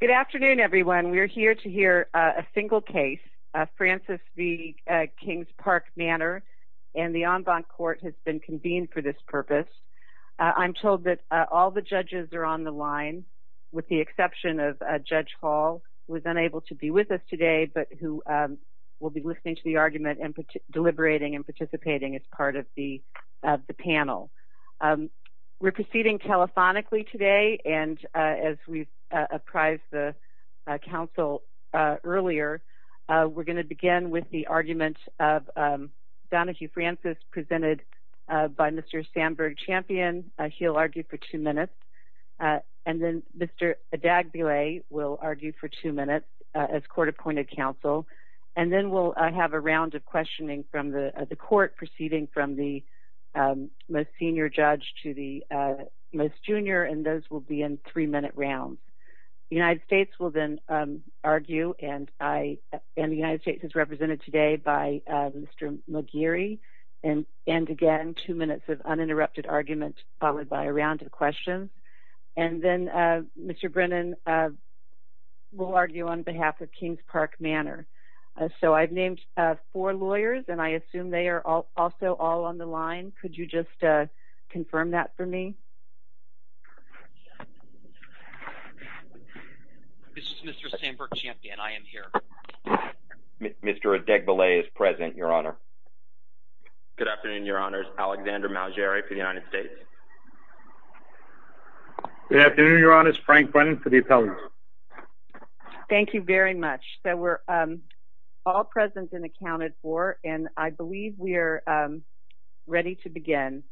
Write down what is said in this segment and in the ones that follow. Good afternoon, everyone. We're here to hear a single case, Francis v. Kings Park Manor, and the En Bonne Court has been convened for this purpose. I'm told that all the judges are on the line, with the exception of Judge Hall, who was unable to be with us today, but who will be listening to the argument and deliberating and participating as part of the panel. We're proceeding telephonically today, and as we apprised the council earlier, we're gonna begin with the argument of Donahue-Francis presented by Mr. Sandberg-Champion. He'll argue for two minutes, and then Mr. Adagbile will argue for two minutes as court-appointed counsel, and then we'll have a round of questioning from the court, proceeding from the most senior judge to the most junior, and those will be in three-minute rounds. The United States will then argue, and the United States is represented today by Mr. McGeary, and again, two minutes of uninterrupted argument, followed by a round of questions, and then Mr. Brennan will argue on behalf of Kings Park Manor. So I've named four lawyers, and I assume they are also all on the line. Could you just confirm that for me? Thank you. This is Mr. Sandberg-Champion. I am here. Mr. Adagbile is present, Your Honor. Good afternoon, Your Honors. Alexander Malgeri for the United States. Good afternoon, Your Honors. Frank Brennan for the appellate. Thank you very much. So we're all present and accounted for, and I believe we are ready to begin.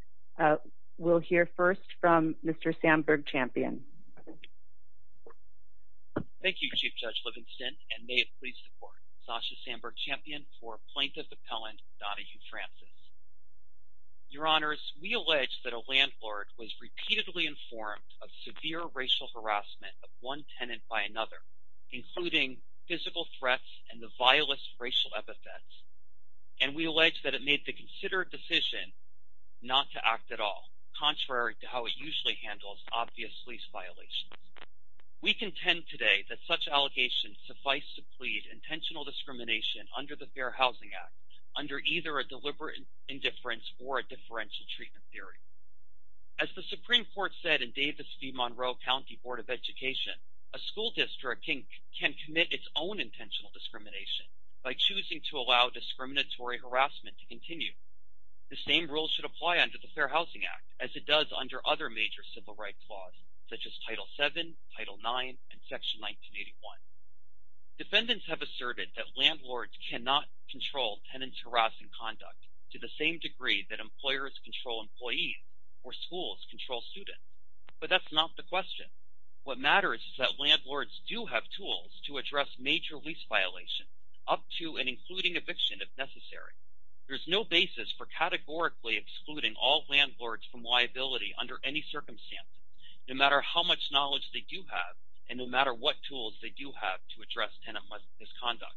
We'll hear first from Mr. Sandberg-Champion. Thank you, Chief Judge Livingston, and may it please the Court, Sasha Sandberg-Champion for Plaintiff Appellant, Donna Hugh-Francis. Your Honors, we allege that a landlord was repeatedly informed of severe racial harassment of one tenant by another, including physical threats and the violent racial epithets, and we allege that it made the considered decision not to act at all, contrary to how it usually handles obvious lease violations. We contend today that such allegations suffice to plead intentional discrimination under the Fair Housing Act, under either a deliberate indifference or a differential treatment theory. As the Supreme Court said in Davis v. Monroe County Board of Education, a school district can commit its own intentional discrimination by choosing to allow discriminatory harassment to continue. The same rules should apply under the Fair Housing Act as it does under other major civil rights laws, such as Title VII, Title IX, and Section 1981. Defendants have asserted that landlords cannot control tenant's harassment conduct to the same degree that employers control employees or schools control students, but that's not the question. What matters is that landlords do have tools to address major lease violations, up to and including eviction if necessary. There's no basis for categorically excluding all landlords from liability under any circumstance, no matter how much knowledge they do have and no matter what tools they do have to address tenant misconduct.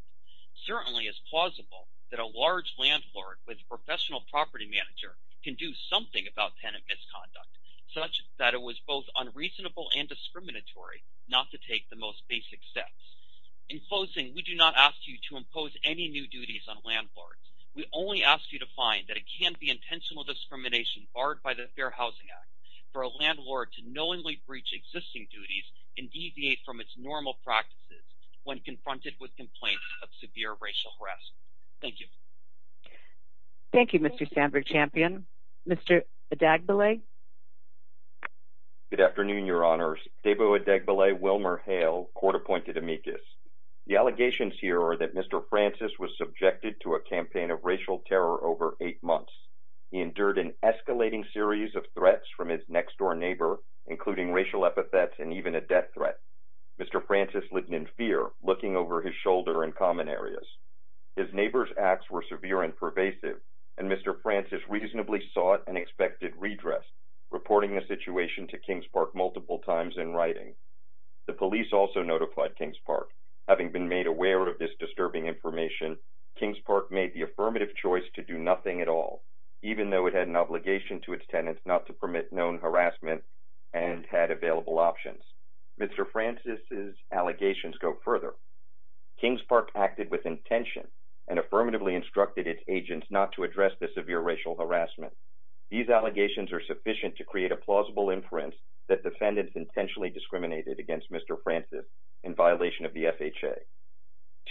Certainly, it's plausible that a large landlord with a professional property manager can do something about tenant misconduct, such that it was both unreasonable and discriminatory not to take the most basic steps. In closing, we do not ask you to impose any new duties on landlords. We only ask you to find that it can't be intentional discrimination barred by the Fair Housing Act for a landlord to knowingly breach existing duties and deviate from its normal practices when confronted with complaints of severe racial harass. Thank you. Thank you, Mr. Sandberg-Champion. Mr. Odagbele. Good afternoon, your honors. Debo Odagbele, Wilmer Hale, court-appointed amicus. The allegations here are that Mr. Francis was subjected to a campaign of racial terror over eight months. He endured an escalating series of threats from his next-door neighbor, including racial epithets and even a death threat. Mr. Francis lived in fear, looking over his shoulder in common areas. His neighbor's acts were severe and pervasive, and Mr. Francis reasonably sought an expected redress, reporting the situation to Kings Park multiple times in writing. The police also notified Kings Park, having been made aware of this disturbing information, Kings Park made the affirmative choice to do nothing at all, even though it had an obligation to its tenants not to permit known harassment and had available options. Mr. Francis's allegations go further. Kings Park acted with intention and affirmatively instructed its agents not to address the severe racial harassment. These allegations are sufficient to create a plausible inference that defendants intentionally discriminated against Mr. Francis in violation of the FHA.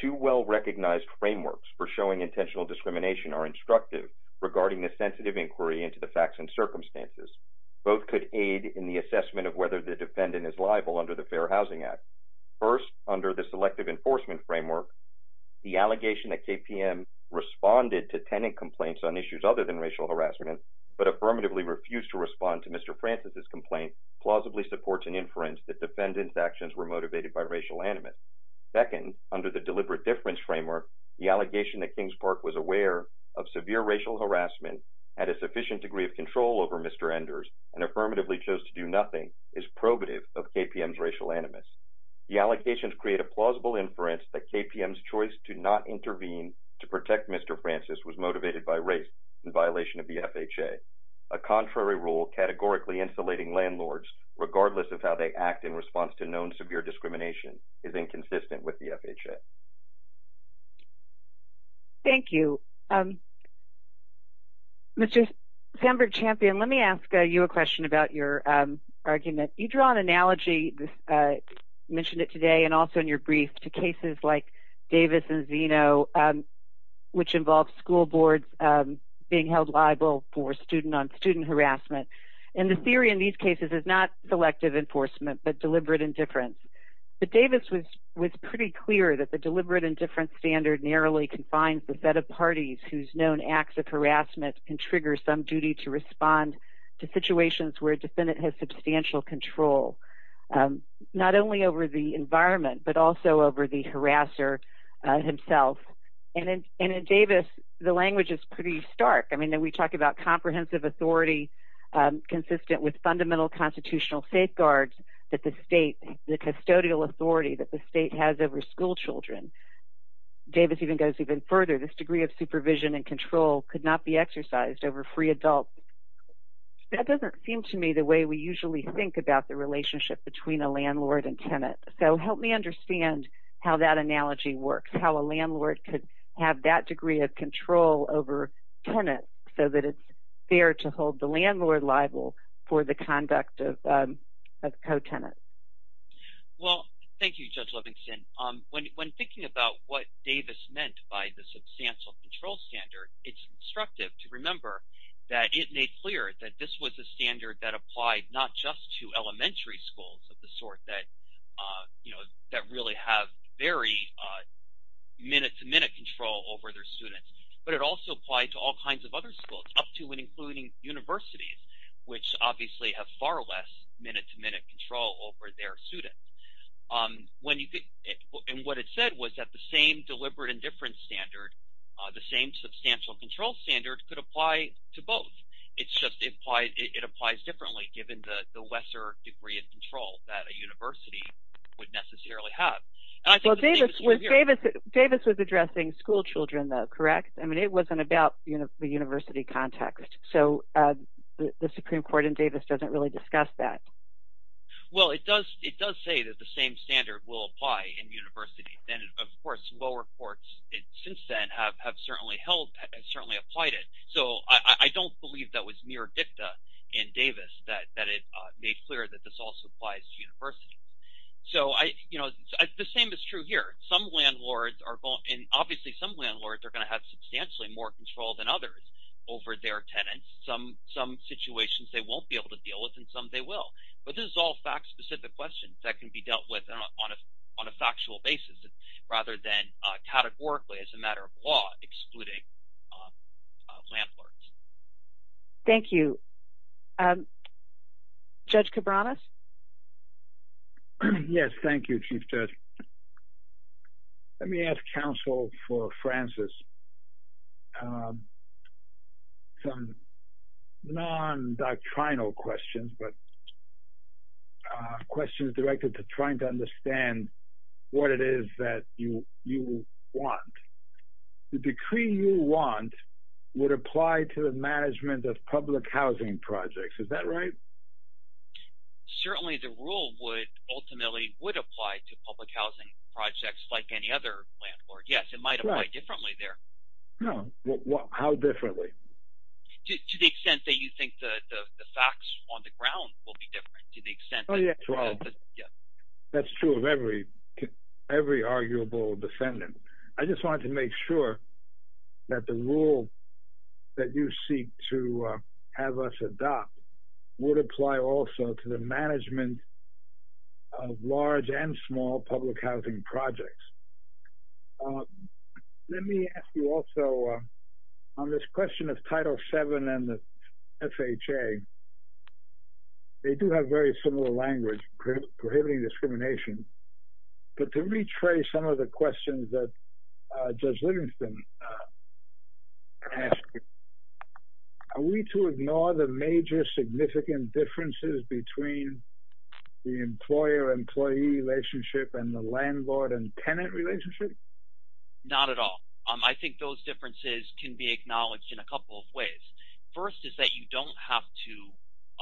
Two well-recognized frameworks for showing intentional discrimination are instructive regarding the sensitive inquiry into the facts and circumstances. Both could aid in the assessment of whether the defendant is liable under the Fair Housing Act. First, under the Selective Enforcement Framework, the allegation that KPM responded to tenant complaints on issues other than racial harassment, but affirmatively refused to respond to Mr. Francis's complaint, plausibly supports an inference that defendant's actions were motivated by racial animus. Second, under the Deliberate Difference Framework, the allegation that Kings Park was aware of severe racial harassment, had a sufficient degree of control over Mr. Enders, and affirmatively chose to do nothing is probative of KPM's racial animus. The allegations create a plausible inference that KPM's choice to not intervene to protect Mr. Francis was motivated by race in violation of the FHA. A contrary rule categorically insulating landlords, regardless of how they act in response to known severe discrimination, is inconsistent with the FHA. Thank you. Mr. Sandberg-Champion, let me ask you a question about your argument. You draw an analogy, you mentioned it today, and also in your brief, to cases like Davis and Zeno, which involved school boards being held liable for student-on-student harassment. And the theory in these cases is not selective enforcement, but deliberate indifference. But Davis was pretty clear that the deliberate indifference standard narrowly confines the set of parties whose known acts of harassment can trigger some duty to respond to situations where a defendant has substantial control, not only over the environment, but also over the harasser himself. And in Davis, the language is pretty stark. We talk about comprehensive authority consistent with fundamental constitutional safeguards that the state, the custodial authority that the state has over school children. Davis even goes even further, this degree of supervision and control could not be exercised over free adults. That doesn't seem to me the way we usually think about the relationship between a landlord and tenant. So help me understand how that analogy works, how a landlord could have that degree of control over tenant so that it's fair to hold the landlord liable for the conduct of co-tenant. Well, thank you, Judge Livingston. When thinking about what Davis meant by the substantial control standard, it's instructive to remember that it made clear that this was a standard that applied not just to elementary schools of the sort that really have very minute-to-minute control over their students, but it also applied to all kinds of other schools up to and including universities, which obviously have far less minute-to-minute control over their students. And what it said was that the same deliberate and different standard, the same substantial control standard could apply to both. It's just it applies differently given the lesser degree of control that a university would necessarily have. Well, Davis was addressing school children though, correct? I mean, it wasn't about the university contact. So the Supreme Court in Davis doesn't really discuss that. Well, it does say that the same standard will apply in universities. And of course, lower courts since then have certainly held, have certainly applied it. So I don't believe that was mere dicta in Davis that it made clear that this also applies to universities. So I, you know, the same is true here. Some landlords are, and obviously some landlords are gonna have substantially more control than others over their tenants. Some situations they won't be able to deal with and some they will. But this is all fact-specific questions that can be dealt with on a factual basis rather than categorically as a matter of law excluding landlords. Thank you. Judge Cabranes? Yes, thank you, Chief Judge. Let me ask counsel for Francis. Some non-doctrinal questions, but questions directed to trying to understand what it is that you want. The decree you want would apply to the management of public housing projects, is that right? Certainly the rule would ultimately would apply to public housing projects like any other landlord. Yes, it might apply differently there. No, how differently? To the extent that you think the facts on the ground will be different to the extent that- Oh, yeah, well, that's true of every arguable defendant. I just wanted to make sure that the rule that you seek to have us adopt would apply also to the management of large and small public housing projects. Let me ask you also on this question of Title VII and the FHA, they do have very similar language prohibiting discrimination, but to retrace some of the questions that Judge Livingston asked you, are we to ignore the major significant differences between the employer-employee relationship and the landlord and tenant relationship? Not at all. I think those differences can be acknowledged in a couple of ways. First is that you don't have to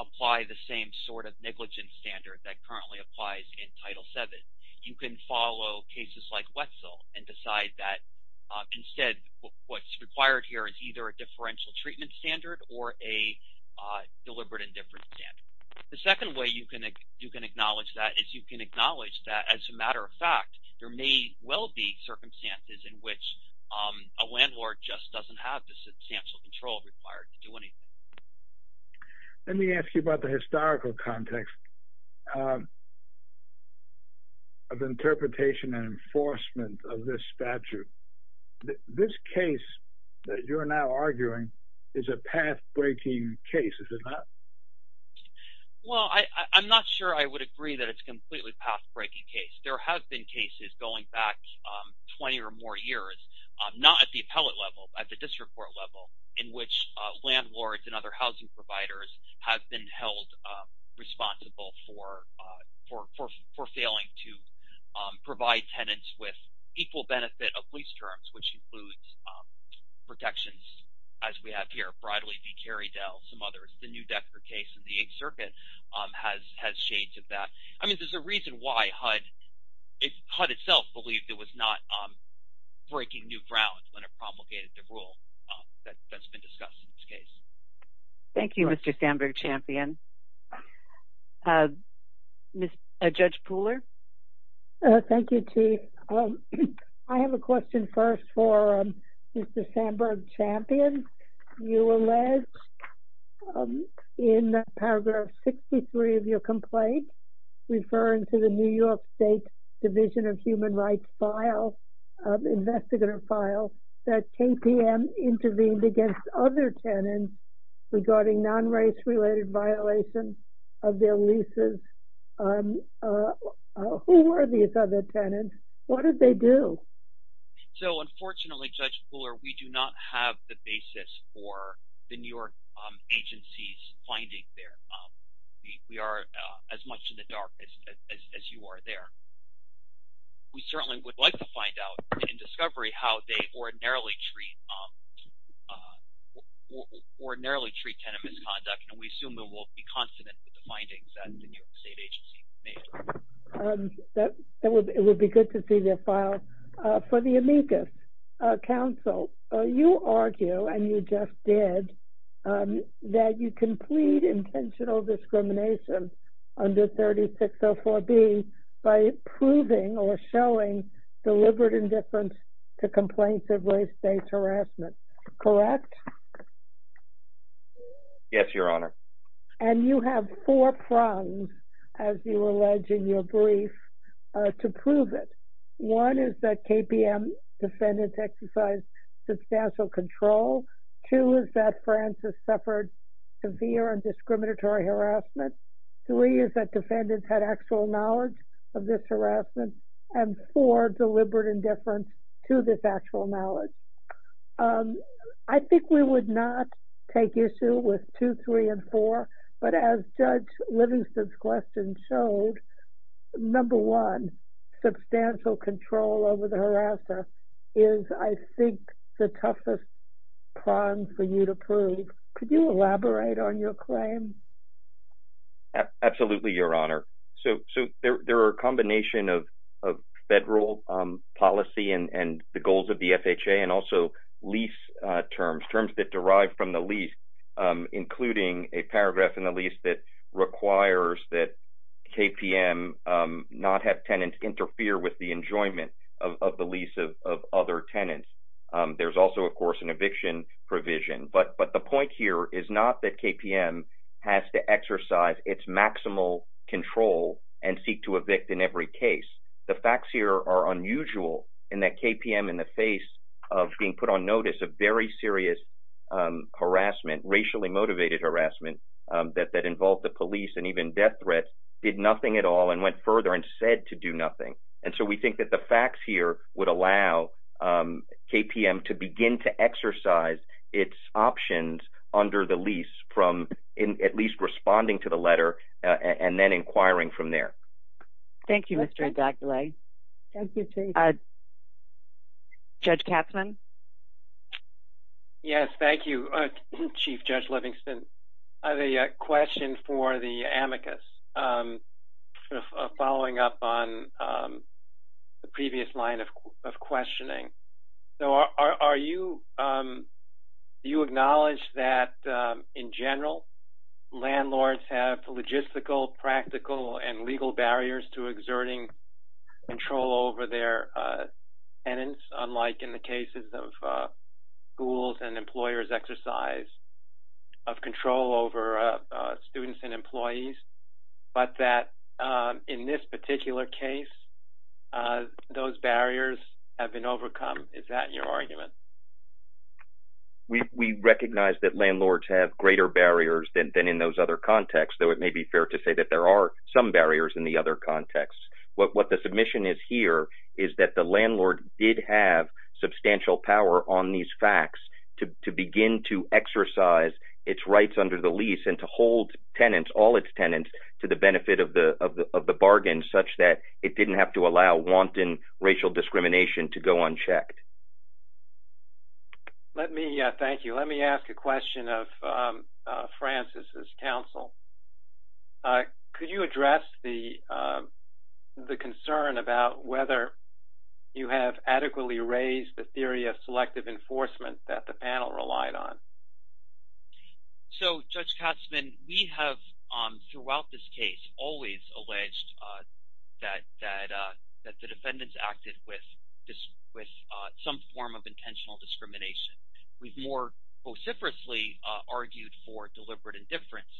apply the same sort of negligence standard that currently applies in Title VII. You can follow cases like Wetzel and decide that instead what's required here is either a differential treatment standard or a deliberate indifference standard. The second way you can acknowledge that is you can acknowledge that as a matter of fact, there may well be circumstances in which a landlord just doesn't have the substantial control required. Let me ask you about the historical context of interpretation and enforcement of this statute. This case that you're now arguing is a path-breaking case, is it not? Well, I'm not sure I would agree that it's completely path-breaking case. There have been cases going back 20 or more years, not at the appellate level, at the district court level, in which landlords and other housing providers have been held responsible for failing to provide tenants with equal benefit of lease terms, which includes protections, as we have here, Bradley v. Kerriedale, some others. The New Decker case in the Eighth Circuit has shades of that. I mean, there's a reason why HUD itself believed it was not breaking new ground when it promulgated the rule that's been discussed in this case. Thank you, Mr. Samberg-Champion. Judge Pooler? Thank you, Chief. I have a question first for Mr. Samberg-Champion. You alleged in paragraph 63 of your complaint referring to the New York State Division of Human Rights file, investigator file, that KPM intervened against other tenants regarding non-race-related violations of their leases. Who were these other tenants? What did they do? So, unfortunately, Judge Pooler, we do not have the basis for the New York agency's finding there. We are as much in the dark as you are there. We certainly would like to find out in discovery how they ordinarily treat tenant misconduct, and we assume there will be consonant with the findings that the New York State agency made. It would be good to see the file. For the amicus, counsel, you argue, and you just did, that you complete intentional discrimination under 3604B by proving or showing deliberate indifference to complaints of race-based harassment, correct? Yes, Your Honor. And you have four prongs, as you allege in your brief, to prove it. One is that KPM defendants exercised substantial control. Two is that Francis suffered severe and discriminatory harassment. Three is that defendants had actual knowledge of this harassment. And four, deliberate indifference to this actual knowledge. I think we would not take issue with two, three, and four, but as Judge Livingston's question showed, number one, substantial control over the harasser is, I think, the toughest prong for you to prove. Could you elaborate on your claim? Absolutely, Your Honor. So there are a combination of federal policy and the goals of the FHA, and also lease terms, terms that derive from the lease, including a paragraph in the lease that requires that KPM not have tenants interfere with the enjoyment of the lease of other tenants. There's also, of course, an eviction provision. But the point here is not that KPM has to exercise its maximal control and seek to evict in every case. The facts here are unusual in that KPM, in the face of being put on notice of very serious harassment, racially motivated harassment, that involved the police and even death threats, did nothing at all and went further and said to do nothing. And so we think that the facts here would allow KPM to begin to exercise its options under the lease from at least responding to the letter and then inquiring from there. Thank you, Mr. Zagdalai. Judge Katzmann? Yes, thank you, Chief Judge Livingston. I have a question for the amicus, following up on the previous line of questioning. So are you, do you acknowledge that in general, landlords have logistical, practical and legal barriers to exerting control over their tenants, unlike in the cases of schools and employers exercise of control over students and employees, but that in this particular case, those barriers have been overcome? Is that your argument? We recognize that landlords have greater barriers than in those other contexts, though it may be fair to say that there are some barriers in the other contexts. What the submission is here is that the landlord did have substantial power on these facts to begin to exercise its rights under the lease and to hold tenants, all its tenants, to the benefit of the bargain, such that it didn't have to allow wanton racial discrimination to go unchecked. Thank you. Let me ask a question of Francis's counsel. Could you address the concern about whether you have adequately raised the theory of selective enforcement that the panel relied on? So Judge Katzman, we have throughout this case always alleged that the defendants acted with some form of intentional discrimination. We've more vociferously argued for deliberate indifference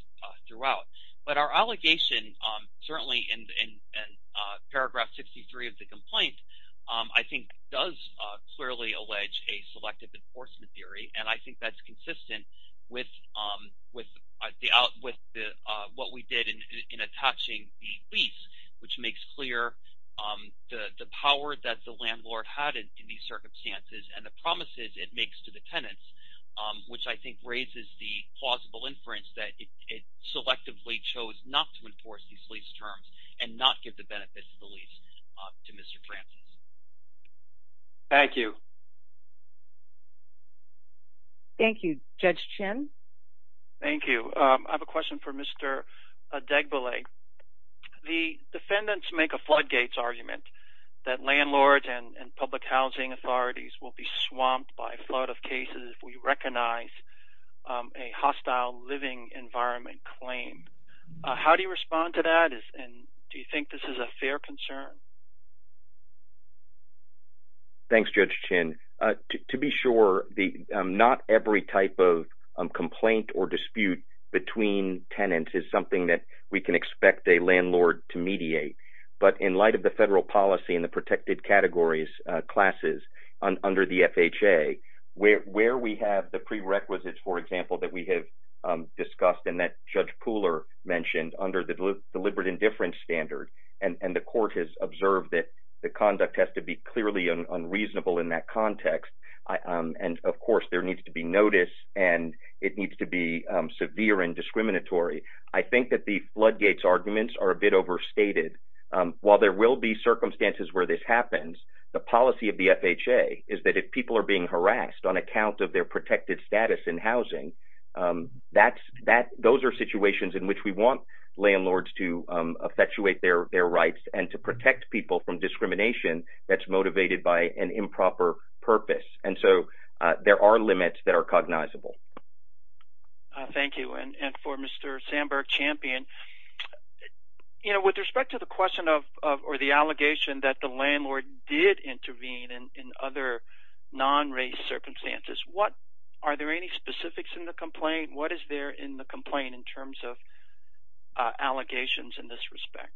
throughout, but our allegation, certainly in paragraph 63 of the complaint, I think does clearly allege a selective enforcement theory. And I think that's consistent with what we did in attaching the lease, which makes clear the power that the landlord had in these circumstances and the promises it makes to the tenants, which I think raises the plausible inference that it selectively chose not to enforce these lease terms and not give the benefits of the lease to Mr. Francis. Thank you. Thank you. Judge Chin. Thank you. I have a question for Mr. Degbelay. The defendants make a floodgates argument that landlords and public housing authorities will be swamped by flood of cases if we recognize a hostile living environment claim. How do you respond to that? And do you think this is a fair concern? Thanks, Judge Chin. To be sure, not every type of complaint or dispute between tenants is something that we can expect a landlord to mediate. But in light of the federal policy and the protected categories classes under the FHA, where we have the prerequisites, for example, that we have discussed and that Judge Pooler mentioned under the deliberate indifference standard, and the court has observed that the conduct has to be clearly unreasonable in that context. And of course, there needs to be notice and it needs to be severe and discriminatory. I think that the floodgates arguments are a bit overstated. While there will be circumstances where this happens, the policy of the FHA is that if people are being harassed on account of their protected status in housing, those are situations in which we want landlords to effectuate their rights and to protect people from discrimination that's motivated by an improper purpose. And so there are limits that are cognizable. Thank you. And for Mr. Sandberg-Champion, with respect to the question or the allegation that the landlord did intervene in other non-race circumstances, are there any specifics in the complaint? What is there in the complaint in terms of allegations in this respect?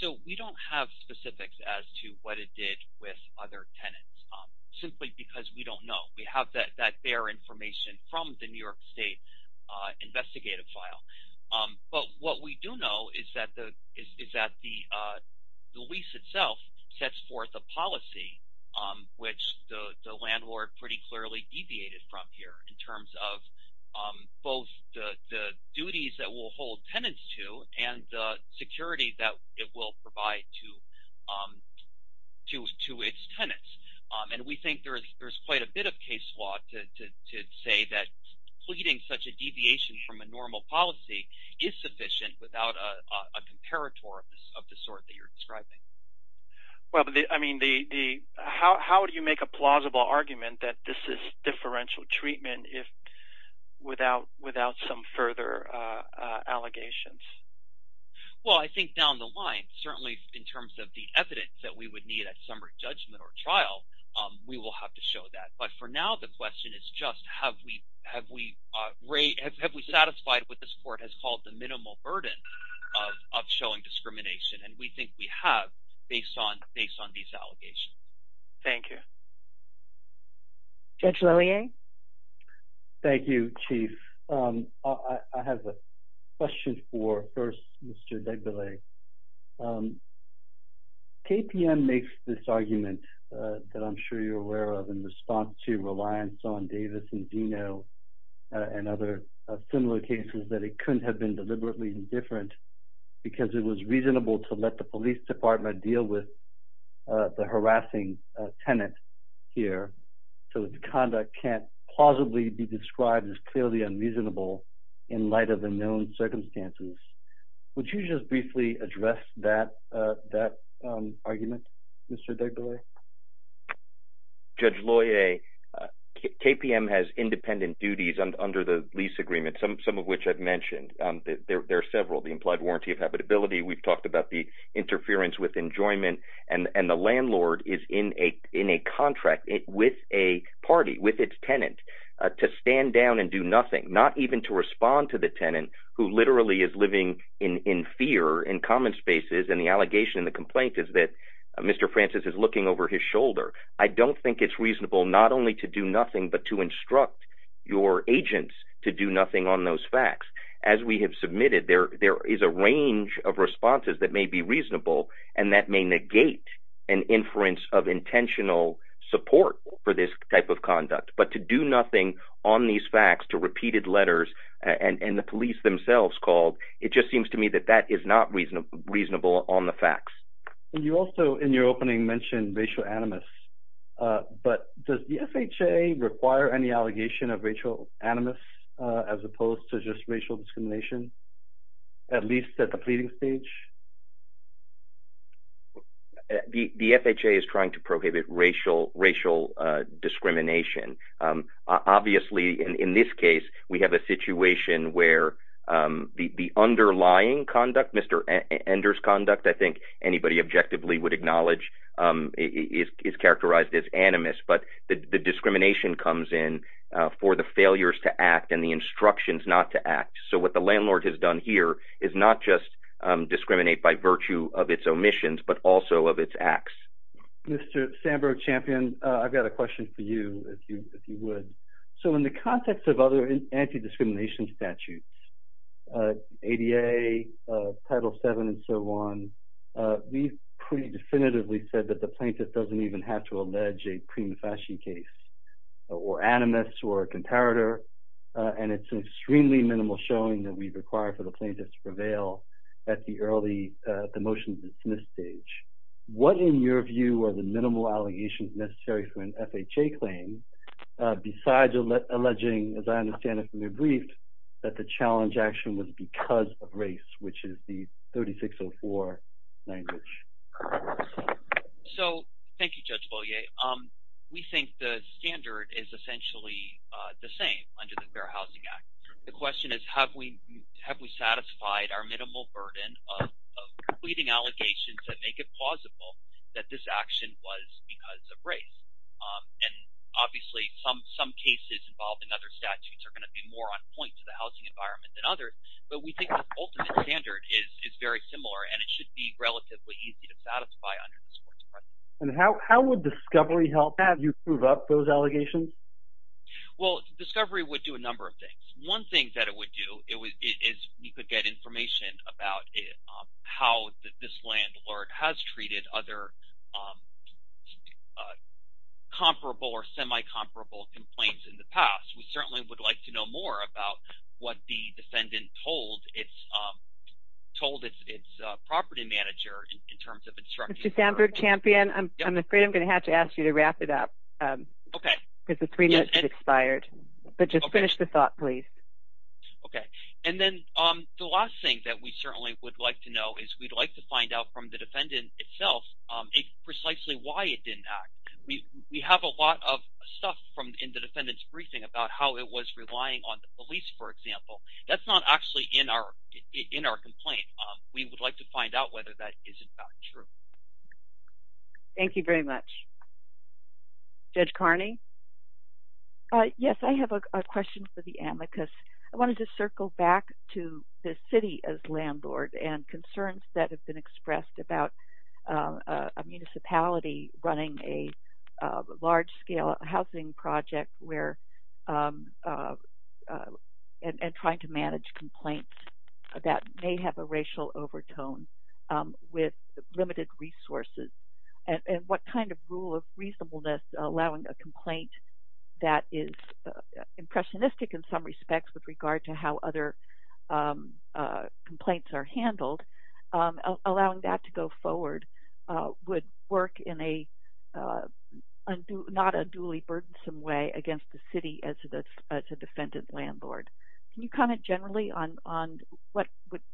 So we don't have specifics as to what it did with other tenants, simply because we don't know. We have that bare information from the New York State investigative file. But what we do know is that the lease itself sets forth a policy, which the landlord pretty clearly deviated from here in terms of both the duties that will hold tenants to and the security that it will provide to its tenants. And we think there's quite a bit of case law to say that pleading such a deviation from a normal policy is sufficient without a comparator of the sort that you're describing. Well, I mean, how do you make a plausible argument that this is differential treatment if without some further allegations? Well, I think down the line, certainly in terms of the evidence that we would need at summary judgment or trial, we will have to show that. But for now, the question is just have we rate, have we satisfied what this court has called the minimal burden of showing discrimination? And we think we have based on these allegations. Thank you. Judge Lillian. Thank you, Chief. I have a question for first, Mr. Debele. KPM makes this argument that I'm sure you're aware of in response to reliance on Davis and Dino and other similar cases that it couldn't have been deliberately different because it was reasonable to let the police department deal with the harassing tenant here. So the conduct can't plausibly be described as clearly unreasonable in light of the known circumstances. Would you just briefly address that argument, Mr. Debele? Judge Loyer, KPM has independent duties under the lease agreement, some of which I've mentioned. There are several, the implied warranty of habitability. We've talked about the interference with enjoyment and the landlord is in a contract with a party, with its tenant to stand down and do nothing, not even to respond to the tenant who literally is living in fear in common spaces. And the allegation and the complaint is that Mr. Francis is looking over his shoulder. I don't think it's reasonable not only to do nothing, but to instruct your agents to do nothing on those facts. As we have submitted, there is a range of responses that may be reasonable and that may negate an inference of intentional support for this type of conduct, but to do nothing on these facts to repeated letters and the police themselves called, it just seems to me that that is not reasonable on the facts. And you also, in your opening, mentioned racial animus, but does the FHA require any allegation of racial animus as opposed to just racial discrimination, at least at the pleading stage? The FHA is trying to prohibit racial discrimination. Obviously, in this case, we have a situation where the underlying conduct, Mr. Ender's conduct, I think anybody objectively would acknowledge is characterized as animus, but the discrimination comes in for the failures to act and the instructions not to act. So what the landlord has done here is not just discriminate by virtue of its omissions, but also of its acts. Mr. Sandberg-Champion, I've got a question for you, if you would. So in the context of other anti-discrimination statutes, ADA, Title VII, and so on, we've pretty definitively said that the plaintiff doesn't even have to allege a prima facie case or animus or comparator, and it's an extremely minimal showing that we require for the plaintiff to prevail at the motions in this stage. What, in your view, are the minimal allegations necessary for an FHA claim besides alleging, as I understand it from your brief, that the challenge action was because of race, which is the 3604 language? So thank you, Judge Beaulieu. We think the standard is essentially the same under the Fair Housing Act. The question is, have we satisfied our minimal burden of pleading allegations that make it plausible that this action was because of race? And obviously, some cases involved in other statutes are gonna be more on point to the housing environment than others, but we think the ultimate standard is very similar, and it should be relatively easy to satisfy under this course of action. And how would discovery help have you prove up those allegations? Well, discovery would do a number of things. One thing that it would do is you could get information about how this landlord has treated other comparable or semi-comparable complaints in the past. We certainly would like to know more about what the defendant told its property manager in terms of instructing- Mr. Sandberg-Champion, I'm afraid I'm gonna have to ask you to wrap it up. Okay. Because the three minutes have expired. But just finish the thought, please. Okay. And then the last thing that we certainly would like to know is we'd like to find out from the defendant itself precisely why it didn't act. We have a lot of stuff in the defendant's briefing about how it was relying on the police, for example. That's not actually in our complaint. We would like to find out whether that is in fact true. Thank you very much. Judge Carney? Yes, I have a question for the amicus. I wanna just circle back to the city as landlord and concerns that have been expressed about a municipality running a large-scale housing project and trying to manage complaints that may have a racial overtone with limited resources. And what kind of rule of reasonableness allowing a complaint that is impressionistic in some respects with regard to how other complaints are handled, allowing that to go forward would work in a not unduly burdensome way against the city as a defendant landlord. Can you comment generally on what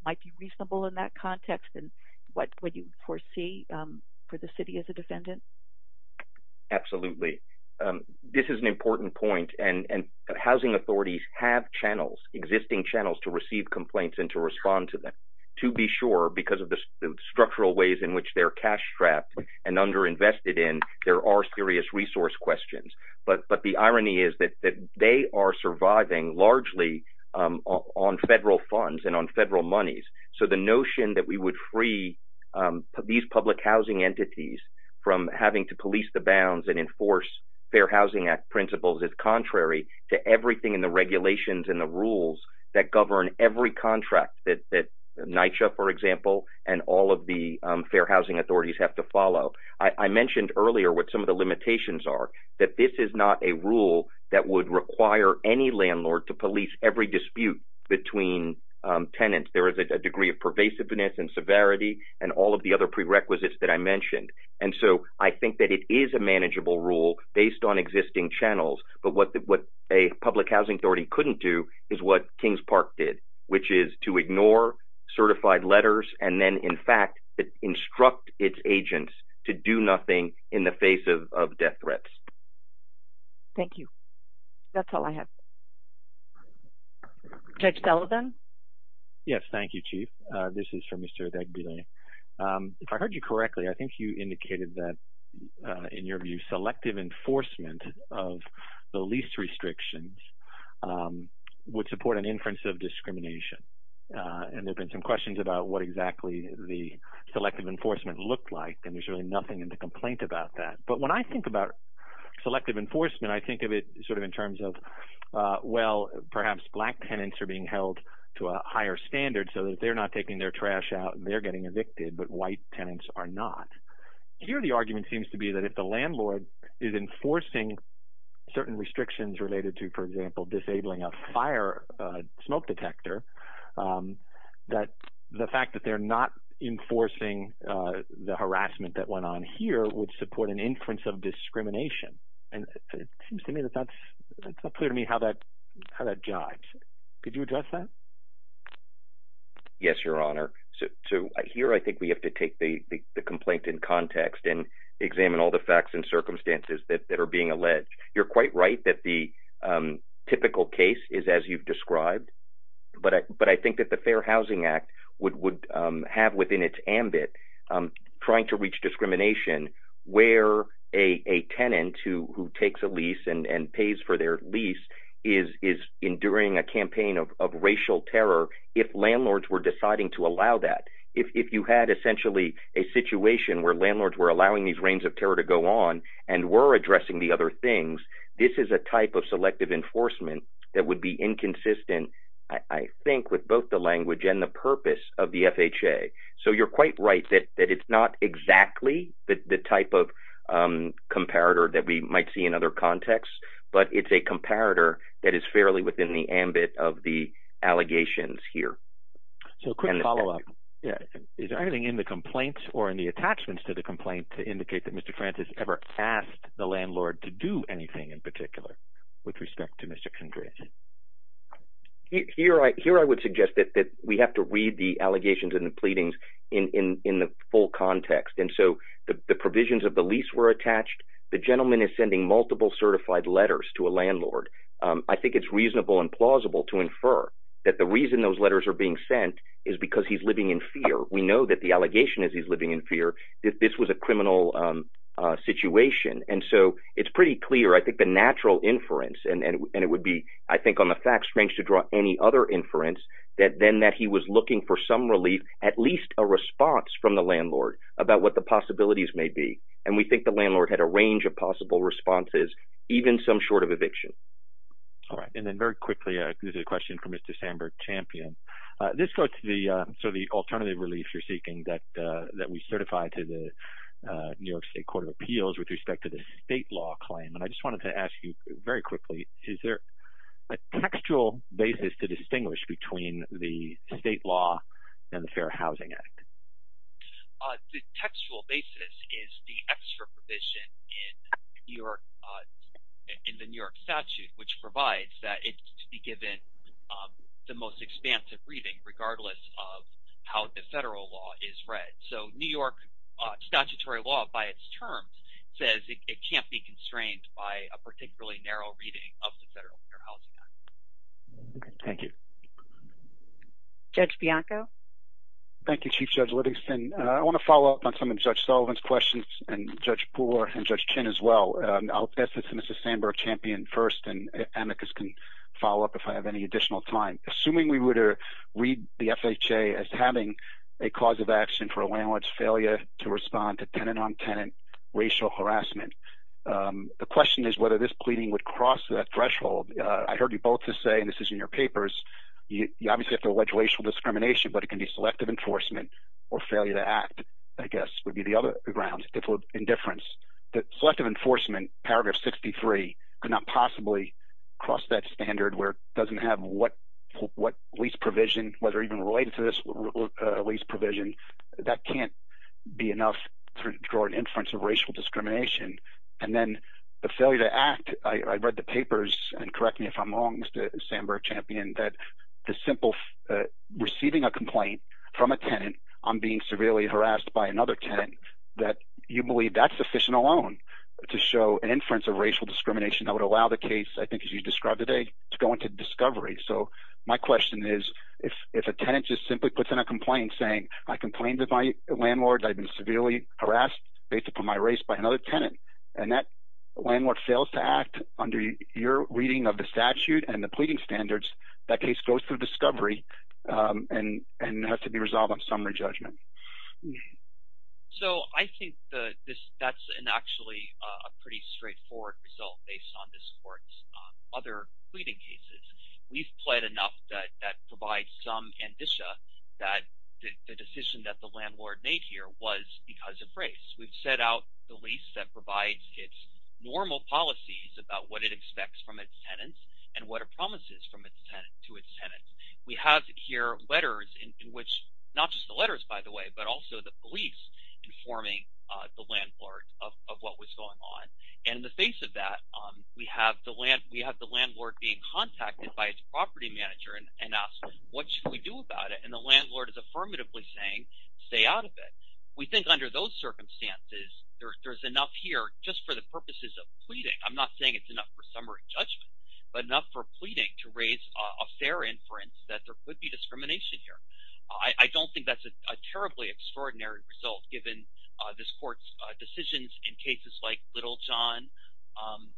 might be reasonable in that context and what would you foresee for the city as a defendant? Absolutely. This is an important point. And housing authorities have channels, existing channels to receive complaints and to respond to them. To be sure, because of the structural ways in which they're cash-strapped and under-invested in, there are serious resource questions. But the irony is that they are surviving largely on federal funds and on federal monies. So the notion that we would free these public housing entities from having to police the bounds and enforce Fair Housing Act principles is contrary to everything in the regulations and the rules that govern every contract that NYCHA, for example, and all of the fair housing authorities have to follow. I mentioned earlier what some of the limitations are, that this is not a rule that would require any landlord to police every dispute between tenants. There is a degree of pervasiveness and severity and all of the other prerequisites that I mentioned. And so I think that it is a manageable rule based on existing channels. But what a public housing authority couldn't do is what Kings Park did, which is to ignore certified letters and then, in fact, instruct its agents to do nothing in the face of death threats. Thank you. That's all I have. Judge Sullivan? Yes, thank you, Chief. This is from Mr. Degbile. If I heard you correctly, I think you indicated that, in your view, selective enforcement of the lease restrictions would support an inference of discrimination. And there've been some questions about what exactly the selective enforcement looked like, and there's really nothing in the complaint about that. But when I think about selective enforcement, I think of it sort of in terms of, well, perhaps black tenants are being held to a higher standard so that they're not taking their trash out and they're getting evicted, but white tenants are not. Here, the argument seems to be that if the landlord is enforcing certain restrictions related to, for example, disabling a fire smoke detector, that the fact that they're not enforcing the harassment that went on here would support an inference of discrimination. And it seems to me that that's, it's not clear to me how that jives. Could you address that? Yes, Your Honor. So here, I think we have to take the complaint in context and examine all the facts and circumstances that are being alleged. You're quite right that the typical case is as you've described, but I think that the Fair Housing Act would have within its ambit trying to reach discrimination where a tenant who takes a lease and pays for their lease is enduring a campaign of racial terror if landlords were deciding to allow that. If you had essentially a situation where landlords were allowing these reigns of terror to go on and were addressing the other things, this is a type of selective enforcement that would be inconsistent, I think, with both the language and the purpose of the FHA. So you're quite right that it's not exactly the type of comparator that we might see in other contexts, but it's a comparator that is fairly within the ambit of the allegations here. So a quick follow-up. Yeah. Is there anything in the complaints or in the attachments to the complaint to indicate that Mr. Francis ever asked the landlord to do anything in particular with respect to Mr. Congratulations? Here, I would suggest that we have to read the allegations and the pleadings in the full context. And so the provisions of the lease were attached. The gentleman is sending multiple certified letters to a landlord. I think it's reasonable and plausible to infer that the reason those letters are being sent is because he's living in fear. We know that the allegation is he's living in fear, that this was a criminal situation. And so it's pretty clear, I think, the natural inference, and it would be, I think, on the fact, strange to draw any other inference, that then that he was looking for some relief, at least a response from the landlord about what the possibilities may be. And we think the landlord had a range of possible responses, even some short of eviction. All right. And then very quickly, this is a question from Mr. Sandberg-Champion. This goes to the alternative relief you're seeking that we certify to the New York State Court of Appeals with respect to the state law claim. And I just wanted to ask you very quickly, is there a textual basis to distinguish between the state law and the Fair Housing Act? The textual basis is the extra provision in the New York statute, which provides that it's to be given the most expansive reading, regardless of how the federal law is read. So New York statutory law, by its term, says it can't be constrained by a particularly narrow reading of the federal Fair Housing Act. Thank you. Judge Bianco? Thank you, Chief Judge Livingston. I wanna follow up on some of Judge Sullivan's questions and Judge Poole and Judge Chinn as well. I'll pass this to Mr. Sandberg-Champion first, and if amicus can follow up if I have any additional time. Assuming we were to read the FHA as having a cause of action for a landlord's failure to respond to tenant-on-tenant racial harassment, the question is whether this pleading would cross that threshold. I heard you both just say, and this is in your papers, you obviously have to allege racial discrimination, but it can be selective enforcement or failure to act, I guess, would be the other grounds, indifference. Selective enforcement, paragraph 63, could not possibly cross that standard where it doesn't have what lease provision, whether even related to this lease provision. That can't be enough for an inference of racial discrimination. And then the failure to act, I read the papers, and correct me if I'm wrong, Mr. Sandberg-Champion, that the simple receiving a complaint from a tenant on being severely harassed by another tenant, that you believe that's sufficient alone to show an inference of racial discrimination that would allow the case, I think as you described today, to go into discovery. So my question is if a tenant just simply puts in a complaint saying, I complained to my landlord that I'd been severely harassed based upon my race by another tenant, and that landlord fails to act under your reading of the statute and the pleading standards, that case goes through discovery and has to be resolved on summary judgment. So I think that's actually a pretty straightforward result based on this court's other pleading cases. We've pled enough that provides some indicia that the decision that the landlord made here was because of race. We've set out the lease that provides its normal policies about what it expects from its tenants and what it promises from its tenants to its tenants. We have here letters in which, not just the letters, by the way, but also the police informing the landlord of what was going on. And in the face of that, we have the landlord being contacted by its property manager and asked, what should we do about it? And the landlord is affirmatively saying, stay out of it. We think under those circumstances, there's enough here just for the purposes of pleading. I'm not saying it's enough for summary judgment, but enough for pleading to raise a fair inference that there could be discrimination here. I don't think that's a terribly extraordinary result given this court's decisions in cases like Little John,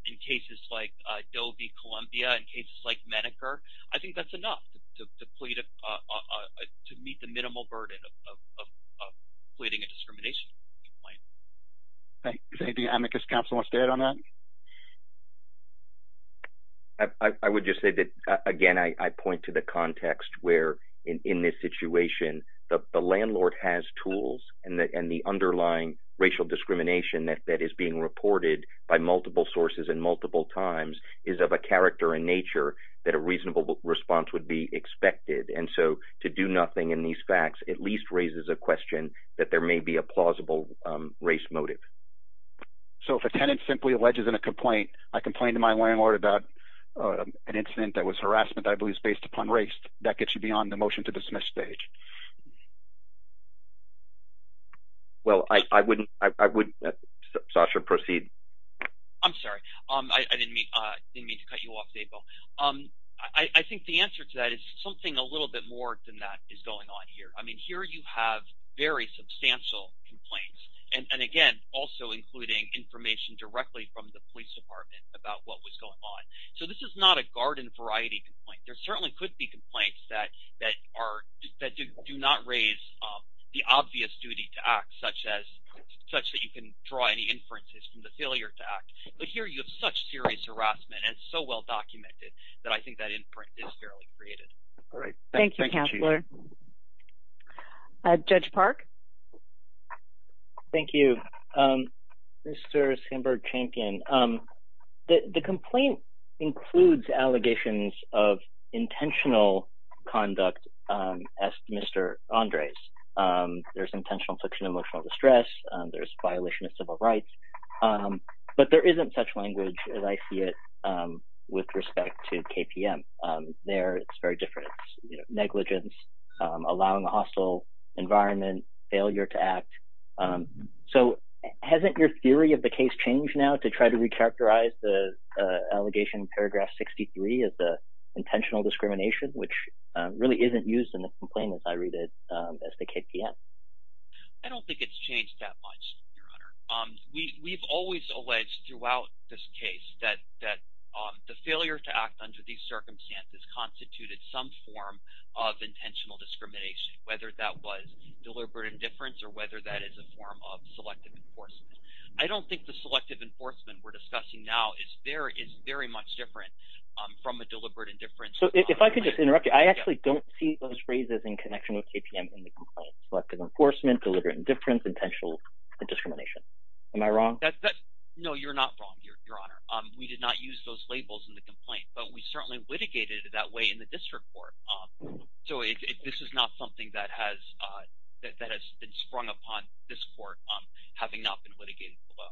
in cases like Adobe Columbia, in cases like Medicare. I think that's enough to meet the minimal burden of pleading a discrimination complaint. Thank you. Is there anything Amicus Counselor wants to add on that? I would just say that, again, I point to the context where in this situation, the landlord has tools and the underlying racial discrimination that is being reported by multiple sources and multiple times is of a character and nature that a reasonable response would be expected. And so to do nothing in these facts, at least raises a question that there may be a plausible race motive. So if a tenant simply alleges in a complaint, I complained to my landlord about an incident that was harassment that I believe is based upon race, that gets you beyond the motion to dismiss stage. Well, I wouldn't, Sasha, proceed. I'm sorry, I didn't mean to cut you off, Mabel. I think the answer to that is something a little bit more than that is going on here. I mean, here you have very substantial complaints. And again, also including information directly from the police department about what was going on. So this is not a garden variety complaint. There certainly could be complaints that do not raise the obvious duty to act, such that you can draw any inferences from the failure to act. But here you have such serious harassment and so well-documented that I think that inference is fairly creative. All right. Thank you, Counselor. Judge Park. Thank you, Mr. Sandberg-Champion. The complaint includes allegations of intentional conduct as Mr. Andre's. There's intentional affliction of emotional distress. There's violation of civil rights. But there isn't such language as I see it with respect to KPM. There, it's very different. Negligence, allowing a hostile environment, failure to act. So hasn't your theory of the case changed now to try to recharacterize the allegation in paragraph 63 as the intentional discrimination, which really isn't used in the complaint as I read it as the KPM? I don't think it's changed that much, Your Honor. We've always alleged throughout this case that the failure to act under these circumstances constituted some form of intentional discrimination, whether that was deliberate indifference or whether that is a form of selective enforcement. I don't think the selective enforcement we're discussing now is very much different from a deliberate indifference. So if I can just interrupt you, I actually don't see those phrases in connection with KPM in the complaint. Selective enforcement, deliberate indifference, intentional discrimination. Am I wrong? No, you're not wrong, Your Honor. We did not use those labels in the complaint, but we certainly litigated it that way in the district court. So this is not something that has been sprung upon this court having not been litigated as well.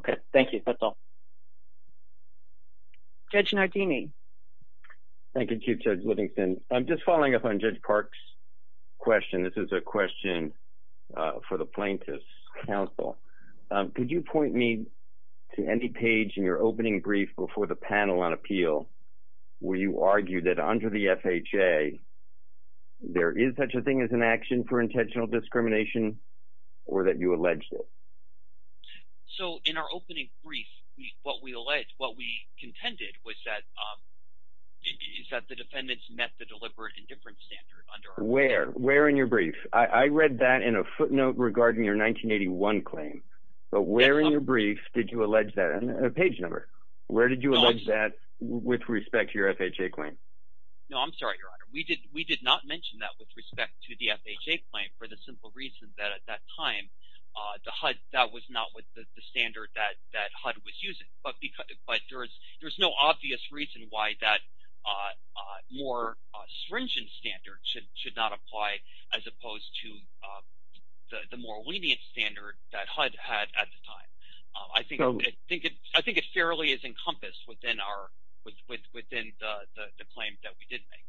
Okay, thank you. That's all. Judge Nardini. Thank you, Chief Judge Whittington. I'm just following up on Judge Park's question. This is a question for the Plaintiffs' Counsel. Could you point me to any page in your opening brief before the panel on appeal where you argued that under the FHA, there is such a thing as an action for intentional discrimination or that you alleged it? So in our opening brief, what we alleged, what we contended was that the defendants Where? Where in your brief? I read that in a footnote regarding your 1981 claim, but where in your brief did you allege that? And a page number. Where did you allege that with respect to your FHA claim? No, I'm sorry, Your Honor. We did not mention that with respect to the FHA claim for the simple reason that at that time, the HUD, that was not with the standard that HUD was using, but there's no obvious reason why that more stringent standard should not apply as opposed to the more lenient standard that HUD had at the time. I think it fairly is encompassed within the claim that we did make.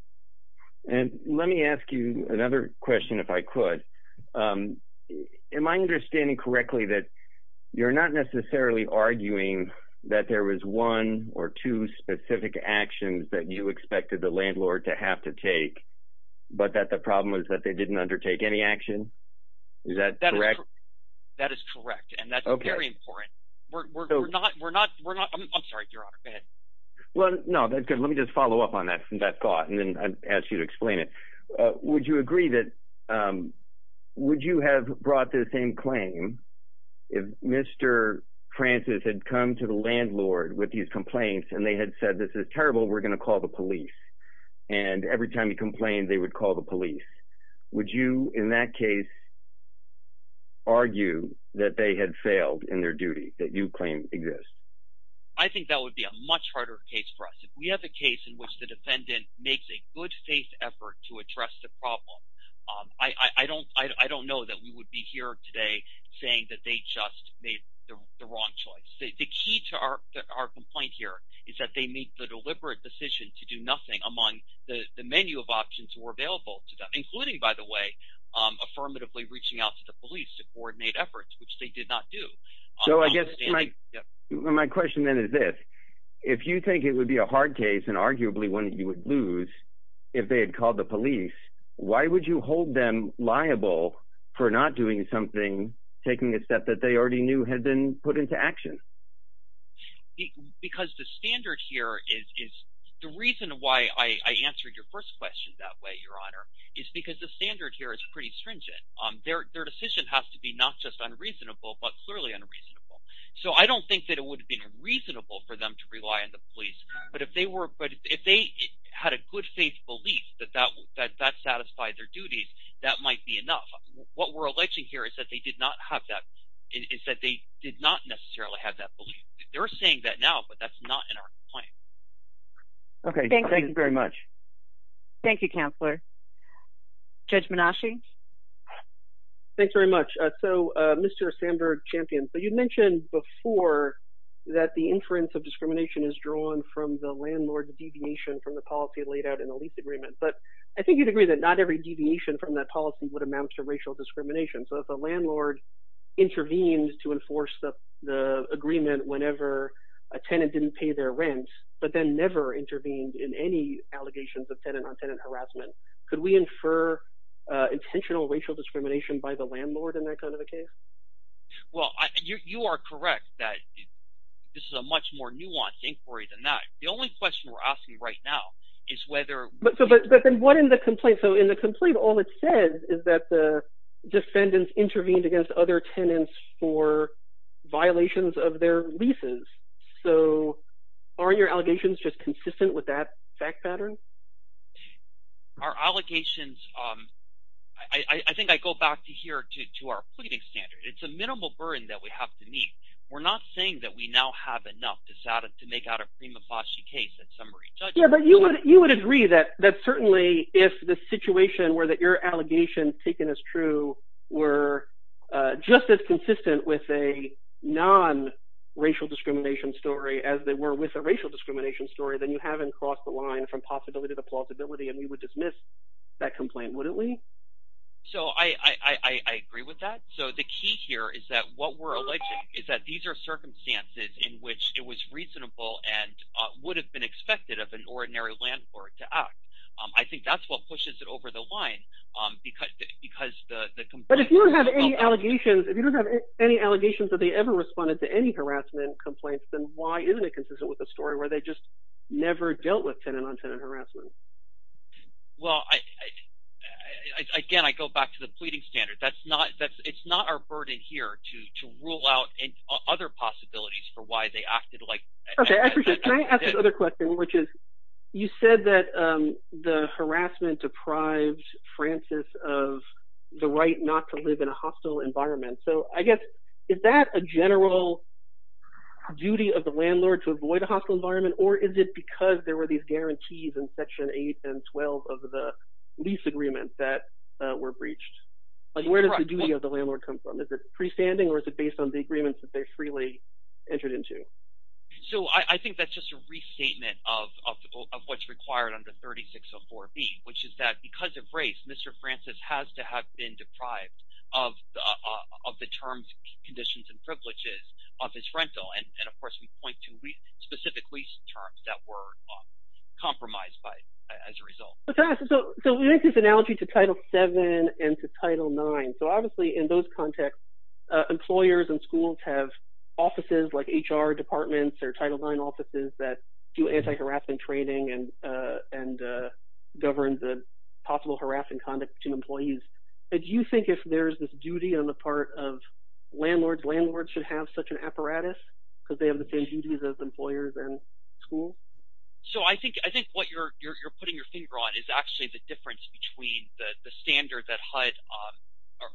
And let me ask you another question if I could. Am I understanding correctly that you're not necessarily arguing that there was one or two specific actions that you expected the landlord to have to take, but that the problem was that they didn't undertake any action? Is that correct? That is correct, and that's very important. We're not, we're not, I'm sorry, Your Honor, go ahead. Well, no, that's good. Let me just follow up on that thought, and then I'll ask you to explain it. Would you agree that, would you have brought this in claim if Mr. Francis had come to the landlord with these complaints and they had said, this is terrible, we're gonna call the police. And every time he complained, they would call the police. Would you, in that case, argue that they had failed in their duty that you claim exists? I think that would be a much harder case for us. If we have a case in which the defendant makes a good faith effort to address the problem, I don't know that we would be here today saying that they just made the wrong choice. The key to our complaint here is that they make the deliberate decision to do nothing among the menu of options were available to them, including, by the way, affirmatively reaching out to the police to coordinate efforts, which they did not do. So I guess my question then is this. If you think it would be a hard case, and arguably one that you would lose if they had called the police, why would you hold them liable for not doing something, taking a step that they already knew had been put into action? Because the standard here is, the reason why I answered your first question that way, Your Honor, is because the standard here is pretty stringent. Their decision has to be not just unreasonable, but clearly unreasonable. So I don't think that it would have been reasonable for them to rely on the police. But if they had a good faith belief that that satisfied their duties, that might be enough. What we're alleging here is that they did not have that, they're saying that now, but that's not in our complaint. Okay, thank you very much. Thank you, Counselor. Judge Menashe. Thanks very much. So Mr. Sandberg-Champion, so you mentioned before that the inference of discrimination is drawn from the landlord's deviation from the policy laid out in the lease agreement. But I think you'd agree that not every deviation from that policy would amount to racial discrimination. So if a landlord intervenes to enforce the agreement whenever a tenant didn't pay their rent, but then never intervened in any allegations of tenant-on-tenant harassment, could we infer intentional racial discrimination by the landlord in that kind of a case? Well, you are correct that this is a much more nuanced inquiry than that. The only question we're asking right now is whether- But then what in the complaint? So in the complaint, all it says is that the defendants intervened against other tenants for violations of their leases. So are your allegations just consistent with that fact pattern? Our allegations, I think I go back to here, to our pleading standard. It's a minimal burden that we have to meet. We're not saying that we now have enough to make out a prima facie case, in summary. Yeah, but you would agree that certainly if the situation where your allegations taken as true were just as consistent with a non-racial discrimination story as they were with a racial discrimination story, then you haven't crossed the line from possibility to plausibility, and we would dismiss that complaint, wouldn't we? So I agree with that. So the key here is that what we're alleging is that these are circumstances in which it was reasonable and would have been expected of an ordinary landlord to act. I think that's what pushes it over the line because the complaint- But if you don't have any allegations, if you don't have any allegations that they ever responded to any harassment complaints, then why isn't it consistent with a story where they just never dealt with tenant-on-tenant harassment? Well, again, I go back to the pleading standard. That's not, it's not our burden here to rule out any other possibilities for why they acted like- Okay, actually, can I ask another question, which is, you said that the harassment deprived Francis of the right not to live in a hostile environment. So I guess, is that a general duty of the landlord to avoid a hostile environment, or is it because there were these guarantees in Section 8 and 12 of the lease agreements that were breached? Like, where does the duty of the landlord come from? Is it freestanding, or is it based on the agreements that they freely entered into? So I think that's just a restatement of what's required under 3604B, which is that because of race, Mr. Francis has to have been deprived of the terms, conditions, and privileges of his rental. And of course, we point to specific lease terms that were compromised by, as a result. So we make this analogy to Title VII and to Title IX. So obviously, in those contexts, employers and schools have offices like HR departments or Title IX offices that do anti-harassment training and govern the possible harassing conduct to employees. But do you think if there's this duty on the part of landlords, landlords should have such an apparatus, because they have the same duties as employers and schools? So I think what you're putting your finger on is actually the difference between the standard that HUD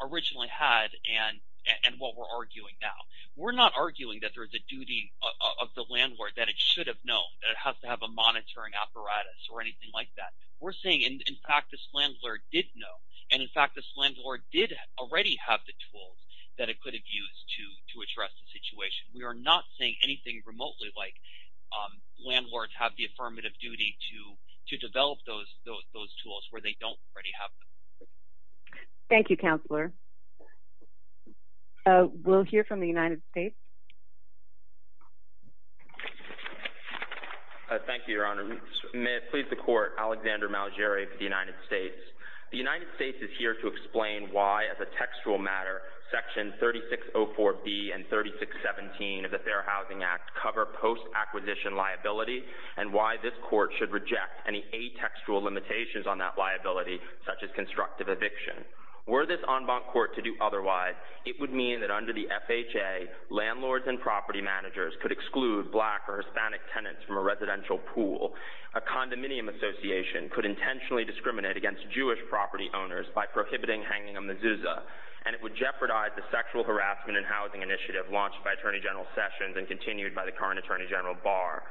originally had and what we're arguing now. We're not arguing that there's a duty of the landlord that it should have known, that it has to have a monitoring apparatus or anything like that. We're saying, in fact, this landlord did know. And in fact, this landlord did already have the tools that it could have used to address the situation. We are not saying anything remotely like landlords have the affirmative duty to develop those tools where they don't already have them. Thank you, Counselor. We'll hear from the United States. Thank you. Thank you, Your Honor. May it please the Court, Alexander Malgeri for the United States. The United States is here to explain why as a textual matter, Section 3604B and 3617 of the Fair Housing Act cover post-acquisition liability and why this court should reject any atextual limitations on that liability, such as constructive eviction. Were this en banc court to do otherwise, it would mean that under the FHA, landlords and property managers could exclude black or Hispanic tenants from a residential pool. A condominium association could intentionally discriminate against Jewish property owners by prohibiting hanging a mezuzah. And it would jeopardize the sexual harassment and housing initiative launched by Attorney General Sessions and continued by the current Attorney General Barr.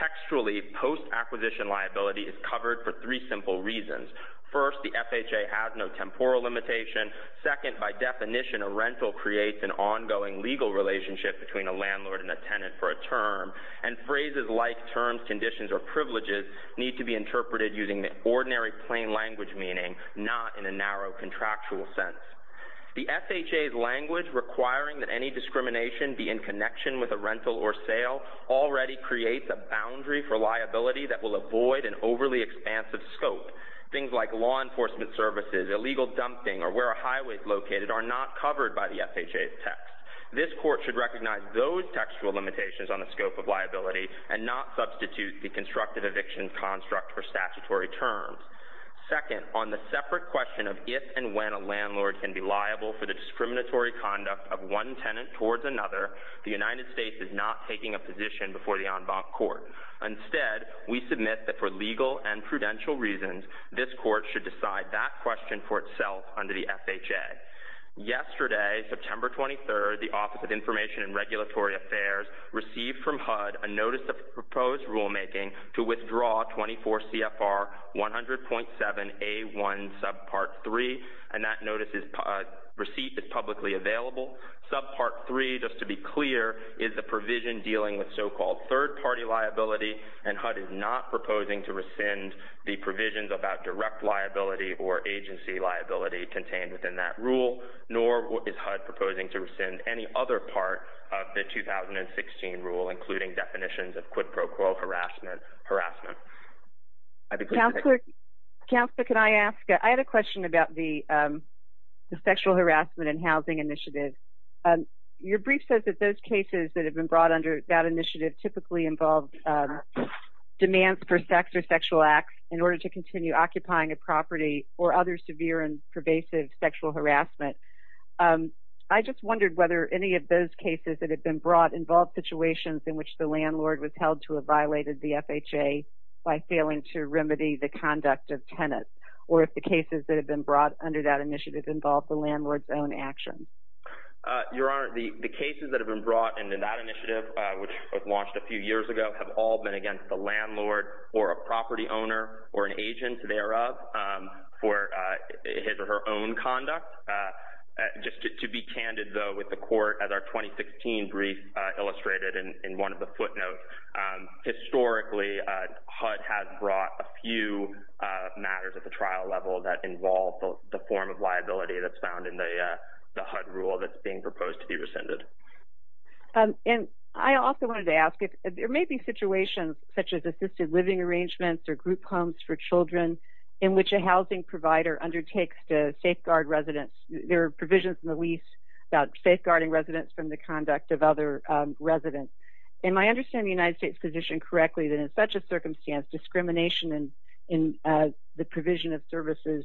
Textually, post-acquisition liability is covered for three simple reasons. First, the FHA has no temporal limitation. Second, by definition, a rental creates an ongoing legal relationship between a landlord and a tenant for a term, and phrases like terms, conditions, or privileges need to be interpreted using the ordinary plain language meaning, not in a narrow contractual sense. The FHA's language requiring that any discrimination be in connection with a rental or sale already creates a boundary for liability that will avoid an overly expansive scope. Things like law enforcement services, illegal dumping, or where a highway's located are not covered by the FHA's text. This court should recognize those textual limitations on the scope of liability and not substitute the constructive eviction construct for statutory terms. Second, on the separate question of if and when a landlord can be liable for the discriminatory conduct of one tenant towards another, the United States is not taking a position before the En Banc Court. Instead, we submit that for legal and prudential reasons, this court should decide that question for itself under the FHA. Yesterday, September 23rd, the Office of Information and Regulatory Affairs received from HUD a notice of proposed rulemaking to withdraw 24 CFR 100.7A1 subpart three, and that notice is received as publicly available. Subpart three, just to be clear, is a provision dealing with so-called third party liability and HUD is not proposing to rescind the provisions about direct liability or agency liability contained within that rule, nor is HUD proposing to rescind any other part of the 2016 rule, including definitions of quid pro quo harassment. Counselor, can I ask, I had a question about the sexual harassment and housing initiative. Your brief says that those cases that have been brought under that initiative typically involve demands for sex or sexual acts in order to continue occupying a property or other severe and pervasive sexual harassment. I just wondered whether any of those cases that have been brought involve situations in which the landlord was held to have violated the FHA by failing to remedy the conduct of tenants, or if the cases that have been brought under that initiative involve the landlord's own actions. Your Honor, the cases that have been brought into that initiative, which launched a few years ago, have all been against the landlord or a property owner or an agent thereof for his or her own conduct. Just to be candid, though, with the court, as our 2016 brief illustrated in one of the footnotes, historically HUD has brought a few matters at the trial level that involve the form of liability that's found in the HUD rule that's being proposed to be rescinded. And I also wanted to ask, there may be situations such as assisted living arrangements or group homes for children in which a housing provider undertakes to safeguard residents. There are provisions in the lease about safeguarding residents from the conduct of other residents. Am I understanding the United States position correctly that in such a circumstance, discrimination in the provision of services,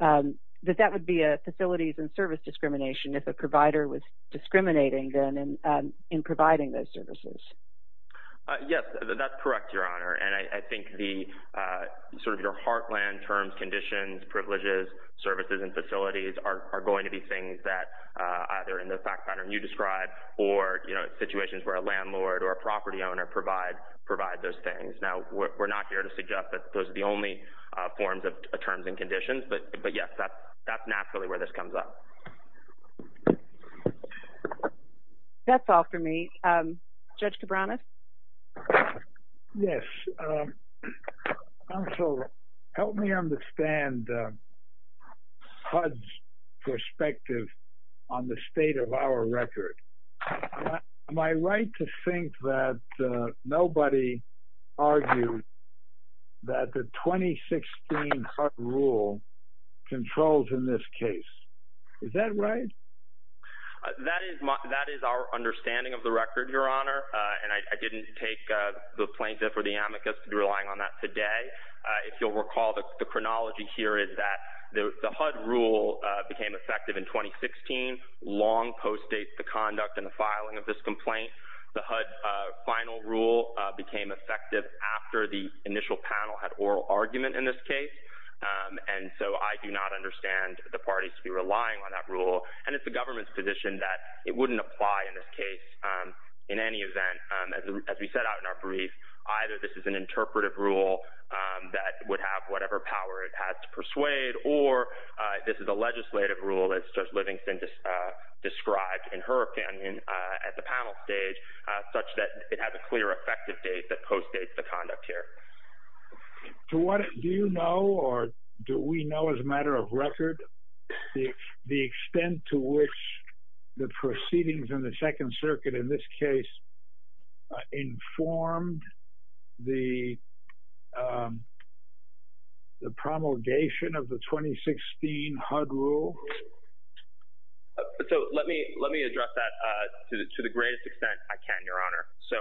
that that would be a facilities and service discrimination if a provider was discriminating then in providing those services? Yes, that's correct, Your Honor. And I think the sort of your heartland terms, conditions, privileges, services, and facilities are going to be things that either in the fact pattern you described or situations where a landlord or a property owner provide those things. Now, we're not here to suggest that those are the only forms of terms and conditions, but yes, that's naturally where this comes up. Thank you. That's all for me. Judge Cabranas? Yes. Counsel, help me understand HUD's perspective on the state of our record. Am I right to think that nobody argued that the 2016 HUD rule controls in this case? Is that right? That is our understanding of the record, Your Honor. And I didn't take the plaintiff or the amicus to be relying on that today. If you'll recall the chronology here is that the HUD rule became effective in 2016, long post date the conduct and the filing of this complaint. The HUD final rule became effective after the initial panel had oral argument in this case. And so I do not understand the parties to be relying on that rule. And it's the government's position that it wouldn't apply in this case. In any event, as we set out in our brief, either this is an interpretive rule that would have whatever power it has to persuade, or this is a legislative rule as Judge Livingston described in her opinion at the panel stage, such that it has a clear effective date that post dates the conduct here. So what do you know, or do we know as a matter of record the extent to which the proceedings in the Second Circuit in this case informed the promulgation of the 2016 HUD rule? So let me address that to the greatest extent I can, Your Honor. So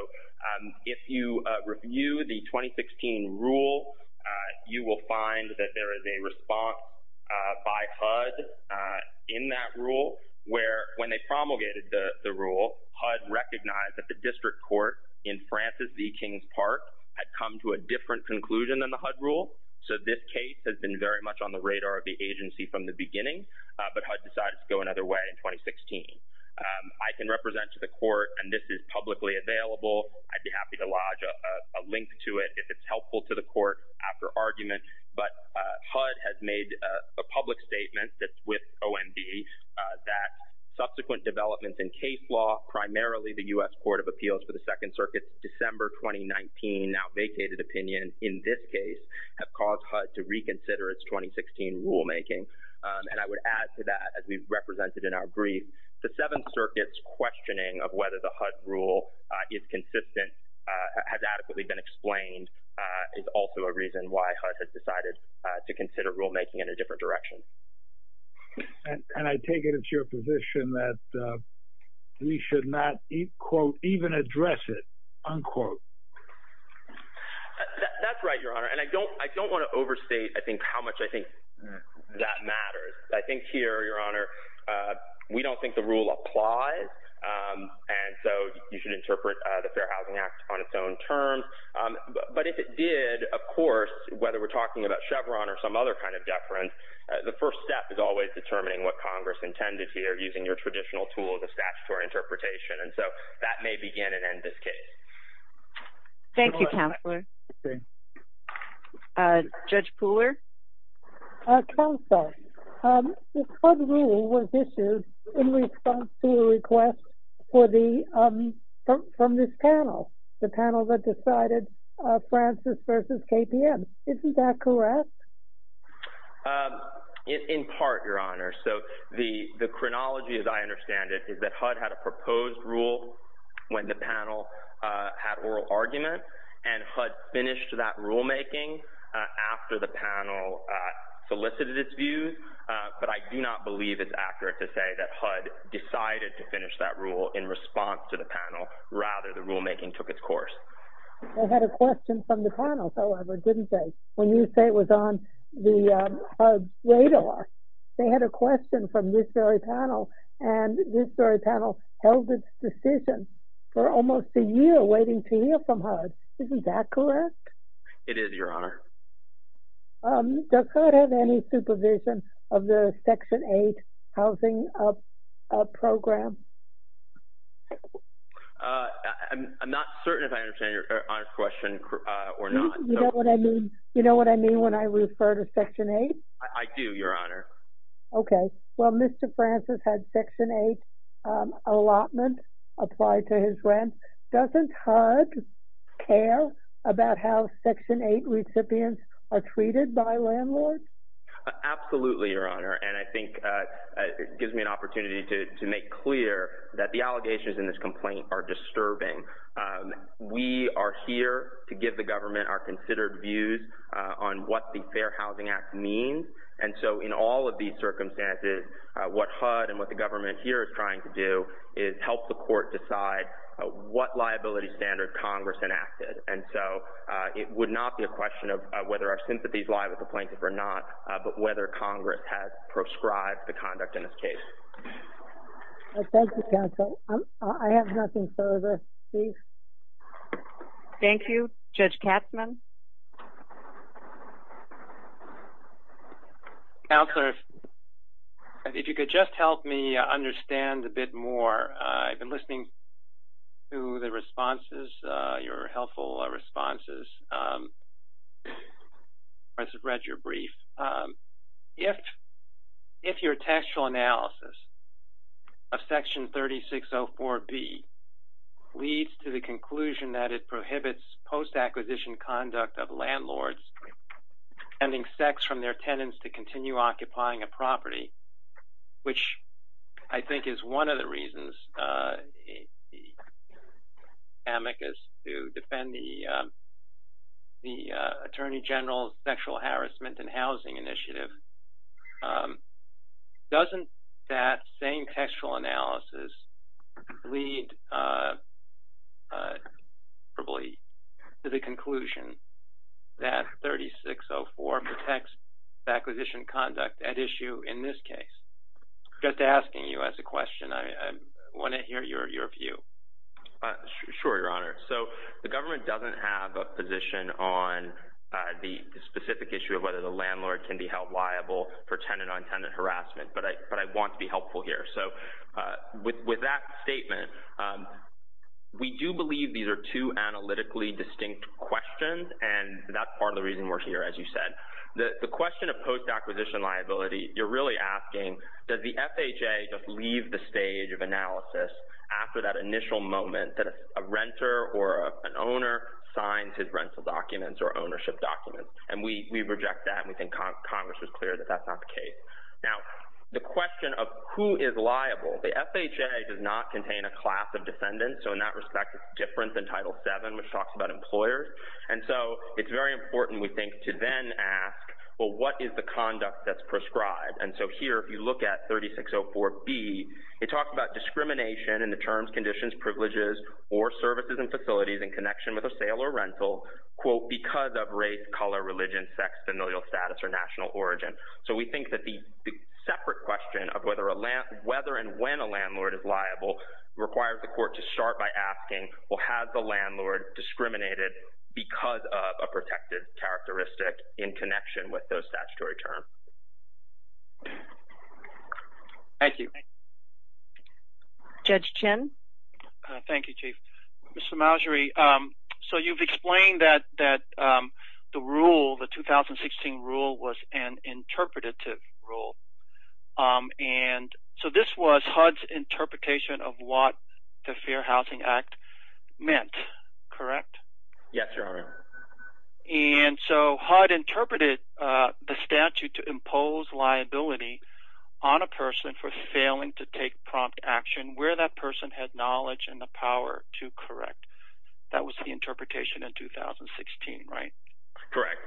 if you review the 2016 rule, you will find that there is a response by HUD in that rule, where when they promulgated the rule, HUD recognized that the district court in Francis D. King Park had come to a different conclusion than the HUD rule. So this case has been very much on the radar of the agency from the beginning, but HUD decided to go another way in 2016. I can represent to the court, and this is publicly available. I'd be happy to lodge a link to it if it's helpful to the court after argument, but HUD has made a public statement that's with OMB that subsequent developments in case law, primarily the U.S. Court of Appeals for the Second Circuit, December 2019, now vacated opinion in this case have caused HUD to reconsider its 2016 rulemaking. And I would add to that, as we've represented in our brief, the Seventh Circuit's questioning of whether the HUD rule is consistent, has adequately been explained, is also a reason why HUD has decided to consider rulemaking in a different direction. And I take it it's your position that we should not, quote, even address it, unquote. That's right, Your Honor. And I don't wanna overstate, I think, how much I think that matters. I think here, Your Honor, we don't think the rule applies. And so you should interpret the Fair Housing Act on its own terms. But if it did, of course, whether we're talking about Chevron or some other kind of deference, the first step is always determining what Congress intended here, using your traditional tool of the statutory interpretation. And so that may begin and end this case. Thank you, Counselor. Judge Pooler? Counsel, the HUD rule was issued in response to a request from this panel, the panel that decided Francis versus KPM. Isn't that correct? In part, Your Honor. So the chronology, as I understand it, is that HUD had a proposed rule when the panel had oral argument, and HUD finished that rulemaking after the panel solicited its views. But I do not believe it's accurate to say that HUD decided to finish that rule in response to the panel. Rather, the rulemaking took its course. They had a question from the panel, however, didn't they? When you say it was on the HUD radar, they had a question from this very panel, and this very panel held its decision for almost a year, waiting to hear from HUD. Isn't that correct? It is, Your Honor. Does HUD have any supervision of the Section 8 housing program? I'm not certain if I understand Your Honor's question or not. You know what I mean when I refer to Section 8? I do, Your Honor. Okay, well, Mr. Francis had Section 8 allotment applied to his rent. Doesn't HUD care about how Section 8 recipients are treated by landlords? Absolutely, Your Honor. And I think it gives me an opportunity to make clear that the allegations in this complaint are disturbing. We are here to give the government our considered views on what the Fair Housing Act means. And so in all of these circumstances, what HUD and what the government here is trying to do is help the court decide what liability standard Congress enacted. And so it would not be a question of whether our sympathies lie with the plaintiff or not, but whether Congress has proscribed the conduct in this case. Thank you, counsel. I have nothing further. Please. Thank you. Judge Katzmann. Counselor, if you could just help me understand a bit more. I've been listening to the responses, your helpful responses. I just read your brief. If your textual analysis of Section 3604B leads to the conclusion that it prohibits post-acquisition conduct of landlords ending sex from their tenants to continue occupying a property, which I think is one of the reasons the amicus to defend the Attorney General's Sexual Harassment and Housing Initiative. Doesn't that same textual analysis lead probably to the conclusion that 3604 protects acquisition conduct at issue in this case? Just asking you as a question. I wanna hear your view. Sure, Your Honor. So the government doesn't have a position on the specific issue of whether the landlord can be held liable for tenant-on-tenant harassment, but I want to be helpful here. So with that statement, we do believe these are two analytically distinct questions, and that's part of the reason we're here, as you said. The question of post-acquisition liability, you're really asking, does the FHA just leave the stage of analysis after that initial moment that a renter or an owner signs his rental documents or ownership documents? And we reject that, and we think Congress is clear that that's not the case. Now, the question of who is liable, the FHA does not contain a class of defendants, so in that respect, it's different than Title VII, which talks about employers. And so it's very important, we think, to then ask, well, what is the conduct that's prescribed? And so here, if you look at 3604B, it talks about discrimination in the terms, conditions, privileges, or services and facilities in connection with a sale or rental, quote, because of race, color, religion, sex, familial status, or national origin. So we think that the separate question of whether and when a landlord is liable requires the court to start by asking, well, has the landlord discriminated because of a protected characteristic in connection with those statutory terms? Thank you. Judge Chin. Thank you, Chief. Mr. Marjorie, so you've explained that the rule, the 2016 rule was an interpretative rule. And so this was HUD's interpretation of what the Fair Housing Act meant, correct? Yes, Your Honor. And so HUD interpreted the statute to impose liability on a person for failing to take prompt action where that person had knowledge and the power to correct. That was the interpretation in 2016, right? Correct.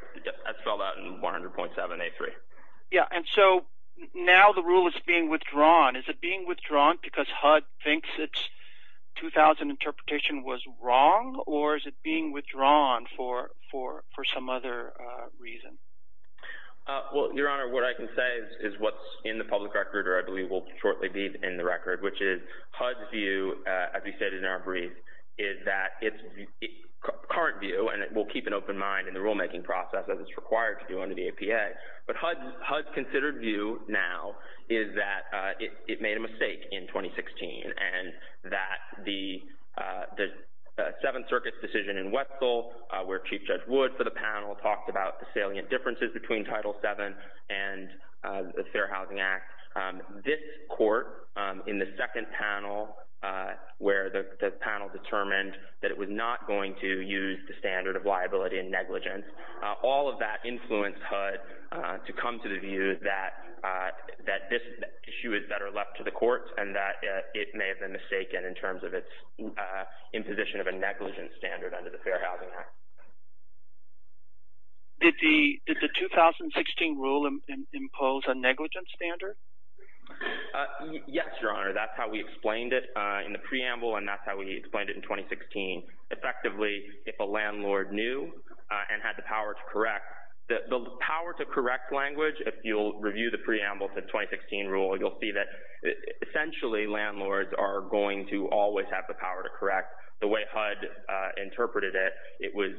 I saw that in 100.7A3. Yeah, and so now the rule is being withdrawn. Is it being withdrawn because HUD thinks its 2000 interpretation was wrong, or is it being withdrawn for some other reason? Well, Your Honor, what I can say is what's in the public record, or I believe will shortly be in the record, which is HUD's view, as we stated in our brief, is that its current view, and we'll keep an open mind in the rulemaking process as it's required to do under the APA, but HUD's considered view now is that it made a mistake in 2016 and that the Seventh Circuit's decision in Wetzel, where Chief Judge Wood, for the panel, talked about the salient differences between Title VII and the Fair Housing Act. This court, in the second panel, where the panel determined that it was not going to use the standard of liability and negligence, all of that influenced HUD to come to the view that this issue is better left to the courts and that it may have been mistaken in terms of its imposition of a negligence standard under the Fair Housing Act. Did the 2016 rule impose a negligence standard? Yes, Your Honor, that's how we explained it in the preamble, and that's how we explained it in 2016. Effectively, if a landlord knew and had the power to correct, the power to correct language, if you'll review the preamble to the 2016 rule, you'll see that essentially landlords are going to always have the power to correct. The way HUD interpreted it, it was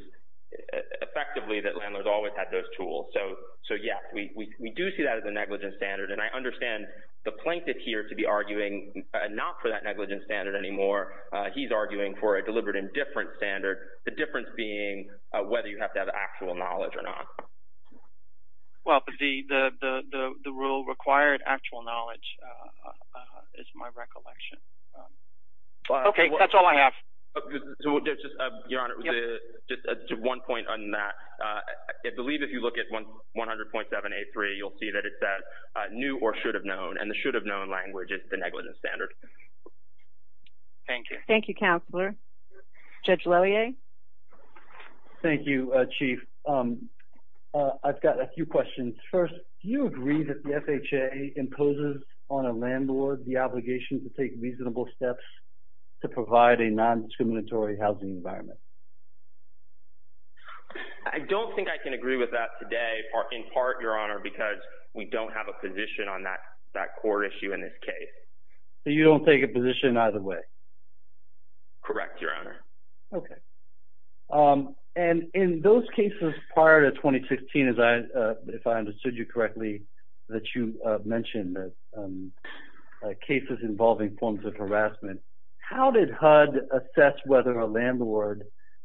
effectively that landlords always had those tools. So yes, we do see that as a negligence standard, and I understand the plaintiff here to be arguing not for that negligence standard anymore. He's arguing for a deliberate indifference standard, the difference being whether you have to have actual knowledge or not. Well, the rule required actual knowledge, is my recollection. Okay, that's all I have. Your Honor, just one point on that. I believe if you look at 100.7A3, you'll see that it says knew or should have known, and the should have known language is the negligence standard. Thank you. Thank you, Counselor. Judge Loyer? Thank you, Chief. I've got a few questions. First, do you agree that the FHA imposes on a landlord the obligation to take reasonable steps to provide a non-discriminatory housing environment? I don't think I can agree with that today, in part, Your Honor, because we don't have a position on that core issue in this case. So you don't take a position either way? Correct, Your Honor. Okay. And in those cases prior to 2016, if I understood you correctly, that you mentioned that cases involving forms of harassment, how did HUD assess whether a landlord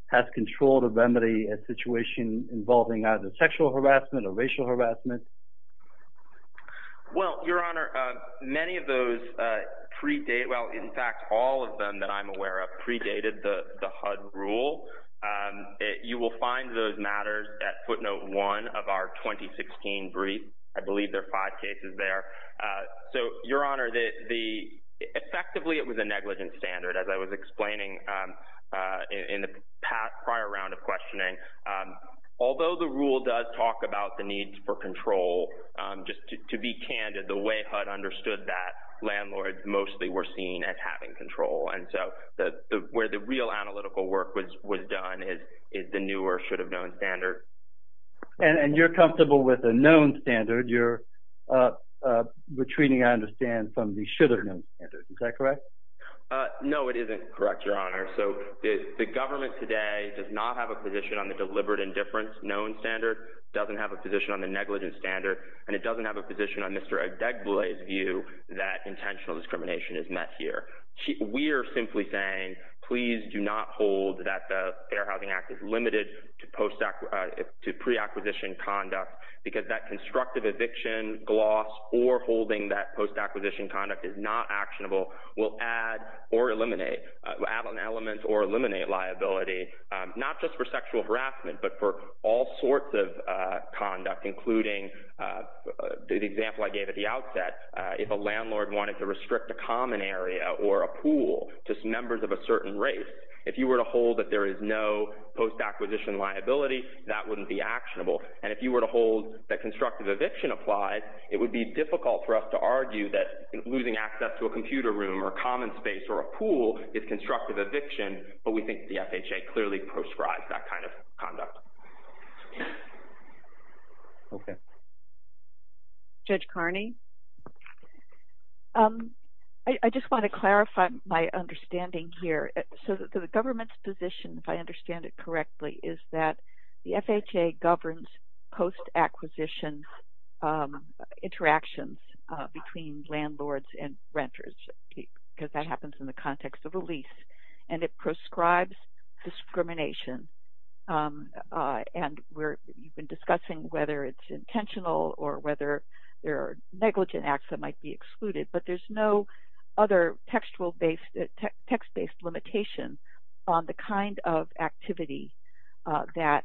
has controlled or remedy a situation involving either sexual harassment or racial harassment? Well, Your Honor, many of those predate, well, in fact, all of them that I'm aware of, you will find those matters at footnote one of our 2016 brief. I believe there are five cases there. So, Your Honor, effectively, it was a negligence standard, as I was explaining in the prior round of questioning. Although the rule does talk about the needs for control, just to be candid, the way HUD understood that, landlords mostly were seen as having control. And so where the real analytical work was done is the new or should have known standard. And you're comfortable with a known standard, you're retreating, I understand, from the should have known standard, is that correct? No, it isn't correct, Your Honor. So the government today does not have a position on the deliberate indifference known standard, doesn't have a position on the negligence standard, and it doesn't have a position on Mr. Odegboe's view that intentional discrimination is met here. We are simply saying, please do not hold that the Fair Housing Act is limited to pre-acquisition conduct, because that constructive eviction, gloss, or holding that post-acquisition conduct is not actionable, will add or eliminate, will add on elements or eliminate liability, not just for sexual harassment, but for all sorts of conduct, including the example I gave at the outset. If a landlord wanted to restrict a common area or a pool, just members of a certain race, if you were to hold that there is no post-acquisition liability, that wouldn't be actionable. And if you were to hold that constructive eviction applies, it would be difficult for us to argue that losing access to a computer room or common space or a pool is constructive eviction, but we think the FHA clearly prescribes that kind of conduct. Okay. Judge Kearney. I just want to clarify my understanding here. So the government's position, if I understand it correctly, is that the FHA governs post-acquisition interactions between landlords and renters, because that happens in the context of a lease, and it prescribes discrimination. And we've been discussing whether it's intentional or whether there are negligent acts that might be excluded, but there's no other text-based limitation on the kind of activity that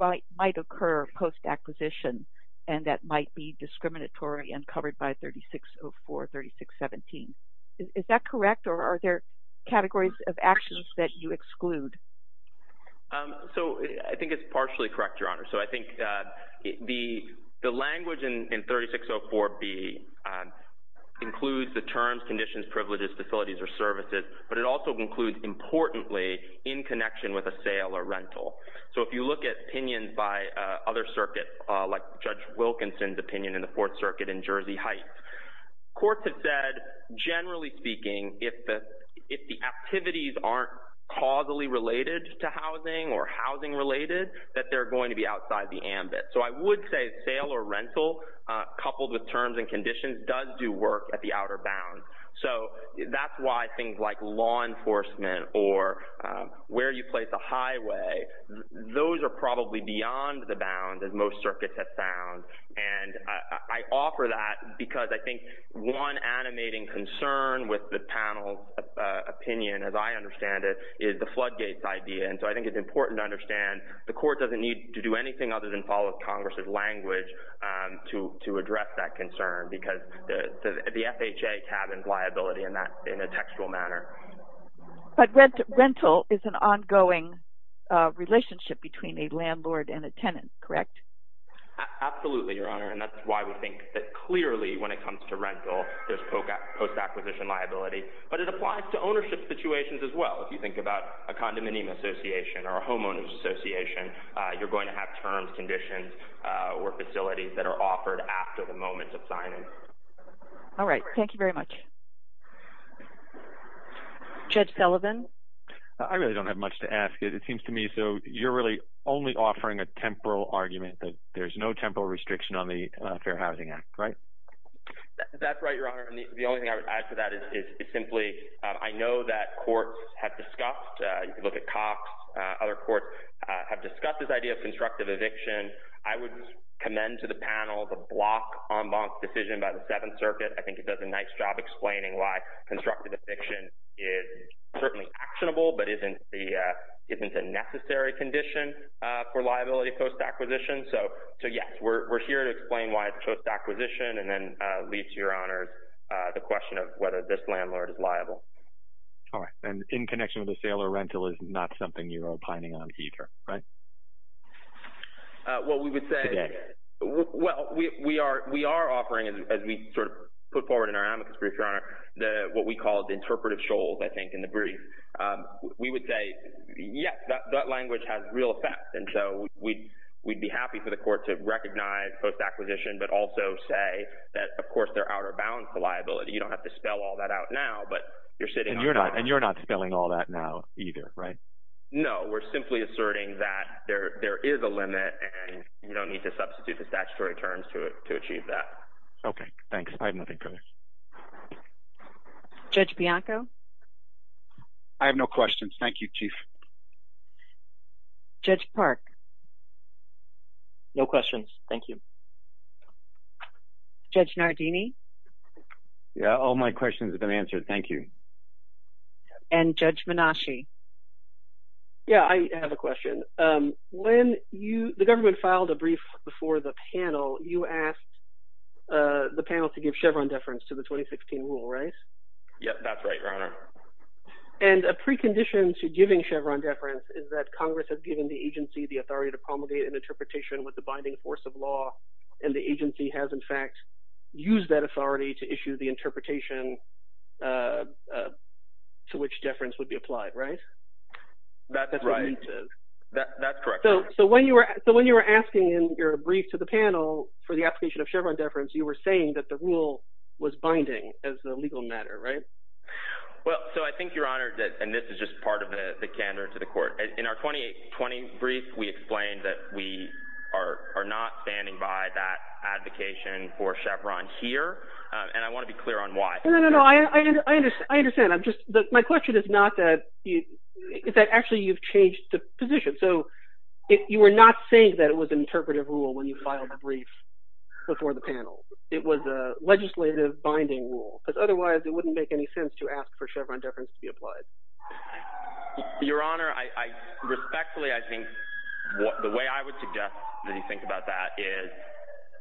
might occur post-acquisition and that might be discriminatory and covered by 3604, 3617. Is that correct? Or are there categories of actions that you exclude? So I think it's partially correct, Your Honor. So I think the language in 3604B includes the terms, conditions, privileges, facilities, or services, but it also includes, importantly, in connection with a sale or rental. So if you look at opinions by other circuits, like Judge Wilkinson's opinion in the Fourth Circuit in Jersey Heights, courts have said, generally speaking, if the activities aren't causally related to housing or housing-related, that they're going to be outside the ambit. So I would say sale or rental, coupled with terms and conditions, does do work at the outer bound. So that's why things like law enforcement or where you place a highway, those are probably beyond the bound, as most circuits have found. And I offer that because I think one animating concern with the panel's opinion, as I understand it, is the floodgates idea. And so I think it's important to understand the court doesn't need to do anything other than follow Congress's language to address that concern, because the FHA tabbens liability in a textual manner. But rental is an ongoing relationship between a landlord and a tenant, correct? that clearly, when it comes to rental, there's post-acquisition liability, but it applies to ownership situations as well. If you think about a condominium association or a homeowner's association, you're going to have terms, conditions or facilities that are offered after the moment of signing. All right, thank you very much. Judge Sullivan. I really don't have much to ask it. It seems to me, so you're really only offering a temporal argument that there's no temporal restriction on the Fair Housing Act, right? That's right, Your Honor. The only thing I would add to that is simply, I know that courts have discussed, look at Cox, other courts have discussed this idea of constructive eviction. I would commend to the panel the block en banc decision by the Seventh Circuit. I think it does a nice job explaining why constructive eviction is certainly actionable, but isn't a necessary condition for liability post-acquisition. So yes, we're here to explain why it's post-acquisition and then leads to, Your Honor, the question of whether this landlord is liable. All right, and in connection with the sale or rental is not something you're opining on either, right? Well, we would say, well, we are offering, as we sort of put forward in our amicus brief, Your Honor, what we call the interpretive shoals, I think, in the brief. We would say, yes, that language has real effects. And so we'd be happy for the court to recognize post-acquisition, but also say that, of course, they're out of bounds for liability. You don't have to spell all that out now, but you're sitting on- And you're not spelling all that now either, right? No, we're simply asserting that there is a limit and you don't need to substitute the statutory terms to achieve that. Okay, thanks. I have nothing further. Judge Bianco? I have no questions. Thank you, Chief. Judge Park? No questions. Thank you. Judge Nardini? Yeah, all my questions have been answered. Thank you. And Judge Menashe? Yeah, I have a question. When the government filed a brief before the panel, you asked the panel to give Chevron deference to the 2016 rule, right? Yep, that's right, Your Honor. And a precondition to giving Chevron deference is that Congress has given the agency the authority to promulgate an interpretation with the binding force of law, and the agency has, in fact, used that authority to issue the interpretation to which deference would be applied, right? That's right. That's correct, Your Honor. So when you were asking in your brief to the panel for the application of Chevron deference, you were saying that the rule was binding as a legal matter, right? Well, so I think, Your Honor, and this is just part of the candor to the court, in our 2018-20 brief, we explained that we are not standing by that advocation for Chevron here, and I wanna be clear on why. No, no, no, I understand. My question is not that, is that actually you've changed the position. So you were not saying that it was an interpretive rule when you filed the brief before the panel. It was a legislative binding rule, because otherwise it wouldn't make any sense to ask for Chevron deference to be applied. Your Honor, I respectfully, I think, the way I would suggest that you think about that is,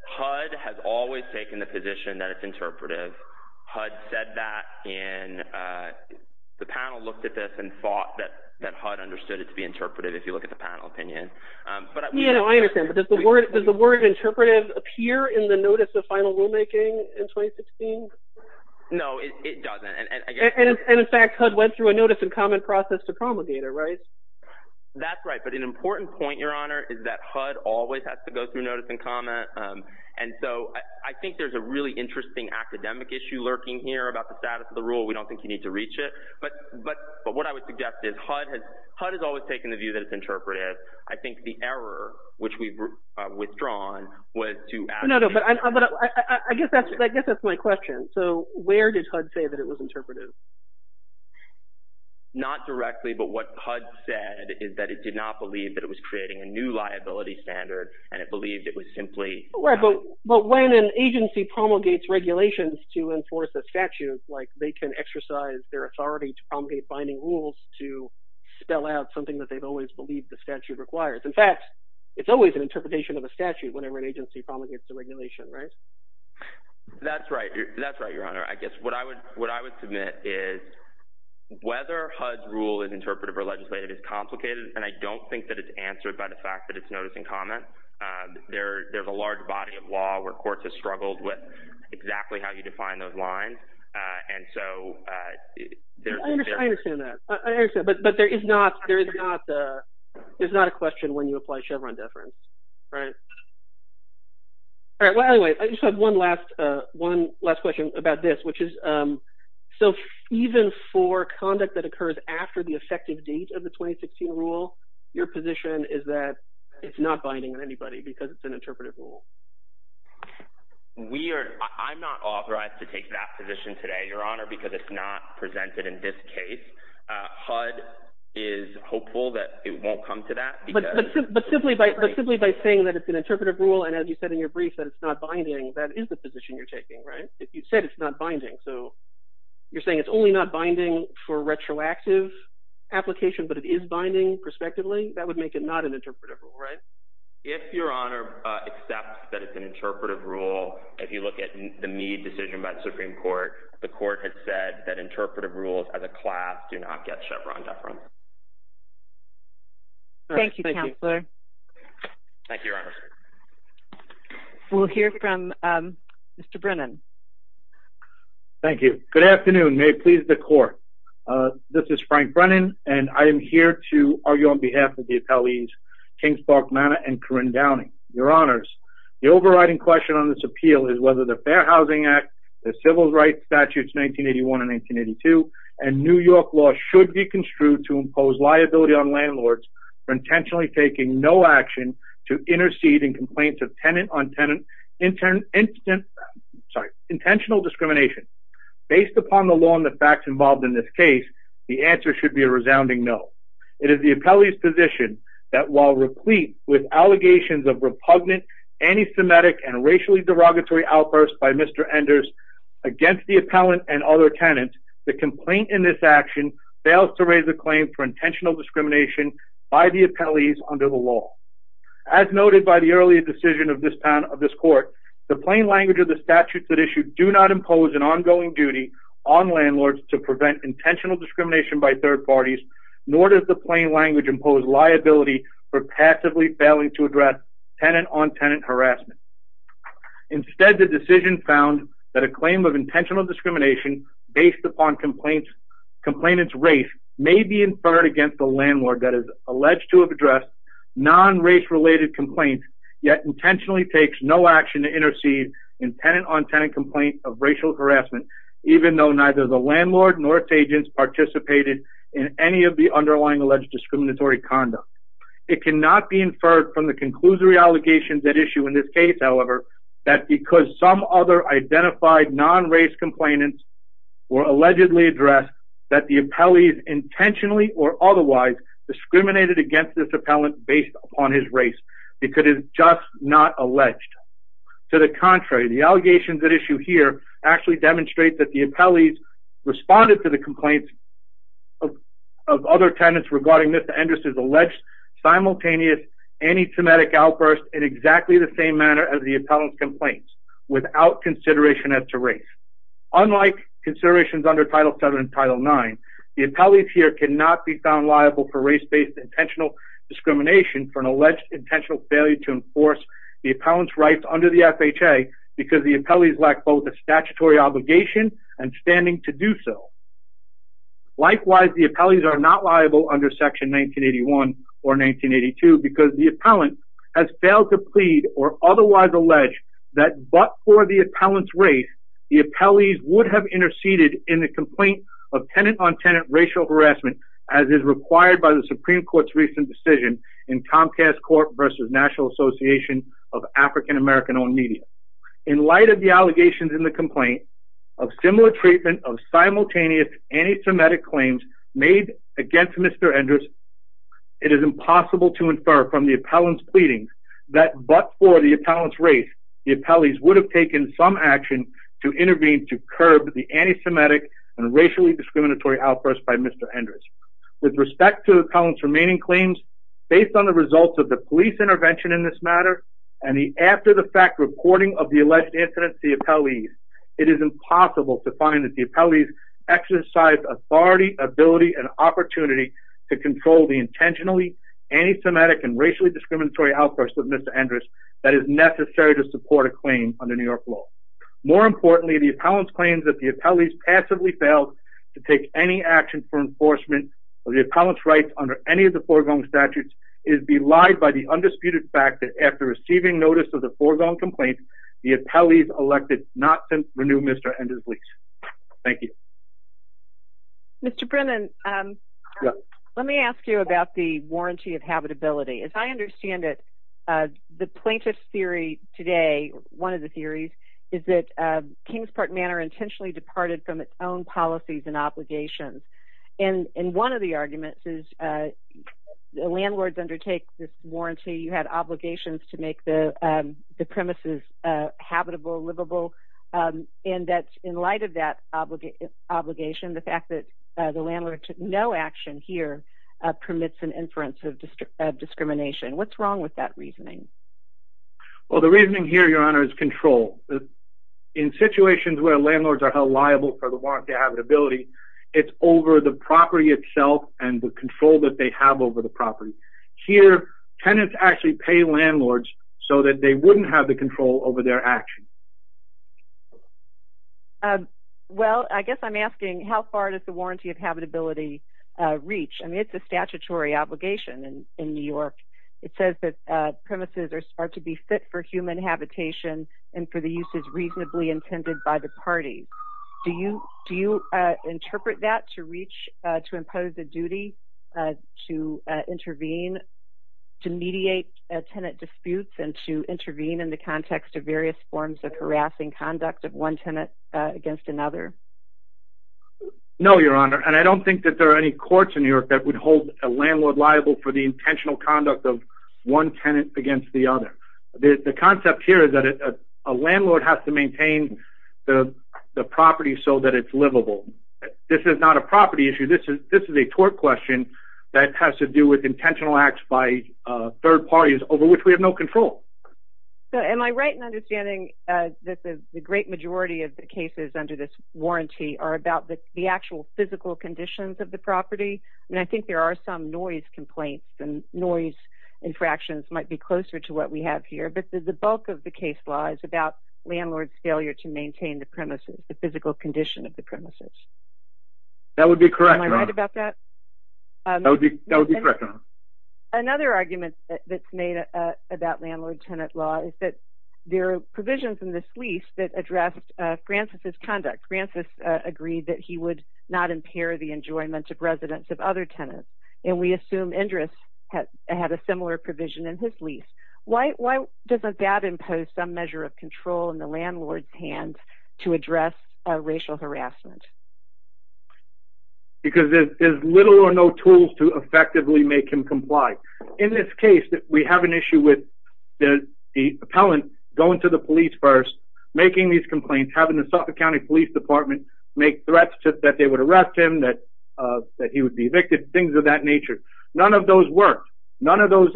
HUD has always taken the position that it's interpretive. HUD said that in, the panel looked at this and thought that HUD understood it to be interpretive if you look at the panel opinion. But I- Yeah, no, I understand, but does the word interpretive appear in the notice of final rulemaking in 2016? No, it doesn't, and I guess- And in fact, HUD went through a notice and comment process to promulgate it, right? That's right, but an important point, Your Honor, is that HUD always has to go through notice and comment. And so I think there's a really interesting academic issue lurking here about the status of the rule. We don't think you need to reach it. But what I would suggest is HUD has always taken the view that it's interpretive. I think the error, which we've withdrawn, was to- No, no, but I guess that's my question. So where did HUD say that it was interpretive? Not directly, but what HUD said is that it did not believe that it was creating a new liability standard and it believed it was simply- Right, but when an agency promulgates regulations to enforce a statute, like they can exercise their authority to promulgate binding rules to spell out something that they've always believed the statute requires. In fact, it's always an interpretation of a statute whenever an agency promulgates a regulation, right? That's right, that's right, Your Honor. I guess what I would submit is whether HUD's rule is interpretive or legislative is complicated. And I don't think that it's answered by the fact that it's notice and comment. There's a large body of law where courts have struggled with exactly how you define those lines. And so- I understand that, but there is not a question when you apply Chevron deference, right? All right, well, anyway, I just have one last question about this, which is, so even for conduct that occurs after the effective date of the 2016 rule, your position is that it's not binding on anybody because it's an interpretive rule. We are, I'm not authorized to take that position today, Your Honor, because it's not presented in this case. HUD is hopeful that it won't come to that. But simply by saying that it's gonna take an interpretive rule, and as you said in your brief, that it's not binding, that is the position you're taking, right, if you said it's not binding. So you're saying it's only not binding for retroactive application, but it is binding prospectively, that would make it not an interpretive rule, right? If Your Honor accepts that it's an interpretive rule, if you look at the Meade decision by the Supreme Court, the court had said that interpretive rules as a class do not get Chevron deference. Thank you, Counselor. Thank you, Your Honor. We'll hear from Mr. Brennan. Thank you, good afternoon. May it please the court. This is Frank Brennan, and I am here to argue on behalf of the attellees, Kings Park Manor and Corinne Downing. Your Honors, the overriding question on this appeal is whether the Fair Housing Act, the Civil Rights Statutes 1981 and 1982, and New York law should be construed to impose liability on landlords for intentionally taking no action to intercede in complaints of tenant-on-tenant intentional discrimination. Based upon the law and the facts involved in this case, the answer should be a resounding no. It is the attellee's position that while replete with allegations of repugnant, anti-Semitic, and racially derogatory outbursts by Mr. Enders against the attellant and other tenants, the complaint in this action fails to raise a claim for intentional discrimination by the attellees under the law. As noted by the earlier decision of this court, the plain language of the statutes at issue do not impose an ongoing duty on landlords to prevent intentional discrimination by third parties, nor does the plain language impose liability for passively failing to address tenant-on-tenant harassment. Instead, the decision found that a claim of intentional discrimination based upon complainant's race may be inferred against the landlord that is alleged to have addressed non-race-related complaints, yet intentionally takes no action to intercede in tenant-on-tenant complaints of racial harassment, even though neither the landlord nor its agents participated in any of the underlying alleged discriminatory conduct. It cannot be inferred from the conclusory allegations at issue in this case, however, that because some other identified non-race complainants were allegedly addressed that the attellees intentionally or otherwise discriminated against this appellant based upon his race because it is just not alleged. To the contrary, the allegations at issue here actually demonstrate that the attellees responded to the complaints of other tenants regarding Ms. Endres' alleged simultaneous anti-semitic outburst in exactly the same manner as the appellant's complaints, without consideration as to race. Unlike considerations under Title VII and Title IX, the appellees here cannot be found liable for race-based intentional discrimination for an alleged intentional failure to enforce the appellant's rights under the FHA because the appellees lack both a statutory obligation and standing to do so. Likewise, the appellees are not liable under Section 1981 or 1982 because the appellant has failed to plead or otherwise allege that but for the appellant's race, the appellees would have interceded in the complaint of tenant-on-tenant racial harassment as is required by the Supreme Court's recent decision in Comcast Court versus National Association of African American-Owned Media. In light of the allegations in the complaint of similar treatment of simultaneous anti-Semitic claims made against Mr. Endres, it is impossible to infer from the appellant's pleadings that but for the appellant's race, the appellees would have taken some action to intervene to curb the anti-Semitic and racially discriminatory outbursts by Mr. Endres. With respect to the appellant's remaining claims, based on the results of the police intervention in this matter and the after-the-fact reporting of the alleged incidents to the appellees, it is impossible to find that the appellees exercised authority, ability, and opportunity to control the intentionally anti-Semitic and racially discriminatory outbursts of Mr. Endres that is necessary to support a claim under New York law. More importantly, the appellant's claims that the appellees passively failed to take any action for enforcement of the appellant's rights under any of the foregoing statutes is belied by the undisputed fact that after receiving notice of the foregoing complaint, the appellees elected not to renew Mr. Endres' lease. Thank you. Mr. Brennan, let me ask you about the warranty of habitability. As I understand it, the plaintiff's theory today, one of the theories, is that Kingsport Manor intentionally departed from its own policies and obligations, and one of the arguments is the landlords undertake this warranty. You had obligations to make the premises habitable, livable, and in light of that obligation, the fact that the landlord took no action here permits an inference of discrimination. What's wrong with that reasoning? Well, the reasoning here, Your Honor, is control. In situations where landlords are held liable for the warranty of habitability, it's over the property itself and the control that they have over the property. Here, tenants actually pay landlords so that they wouldn't have the control over their actions. Well, I guess I'm asking how far does the warranty of habitability reach? I mean, it's a statutory obligation in New York. It says that premises are to be fit for human habitation and for the uses reasonably intended by the parties. Do you interpret that to reach, to impose a duty to intervene, to mediate tenant disputes and to intervene in the context of various forms of harassing conduct of one tenant against another? No, Your Honor, and I don't think that there are any courts in New York that would hold a landlord liable for the intentional conduct of one tenant against the other. The concept here is that a landlord has to maintain the property so that it's livable. This is not a property issue. This is a tort question that has to do with intentional acts by third parties over which we have no control. So am I right in understanding that the great majority of the cases under this warranty are about the actual physical conditions of the property? I mean, I think there are some noise complaints and noise infractions might be closer to what we have here, but the bulk of the case lies about landlord's failure to maintain the premises, the physical condition of the premises. That would be correct, Your Honor. Am I right about that? That would be correct, Your Honor. Another argument that's made about landlord-tenant law is that there are provisions in this lease that address Francis's conduct. Francis agreed that he would not impair the enjoyment of residents of other tenants, and we assume Indra had a similar provision in his lease. Why doesn't that impose some measure of control in the landlord's hands to address racial harassment? Because there's little or no tools to effectively make him comply. In this case, we have an issue with the appellant going to the police first, making these complaints, having the Suffolk County Police Department make threats that they would arrest him, that he would be evicted, things of that nature. None of those work. None of those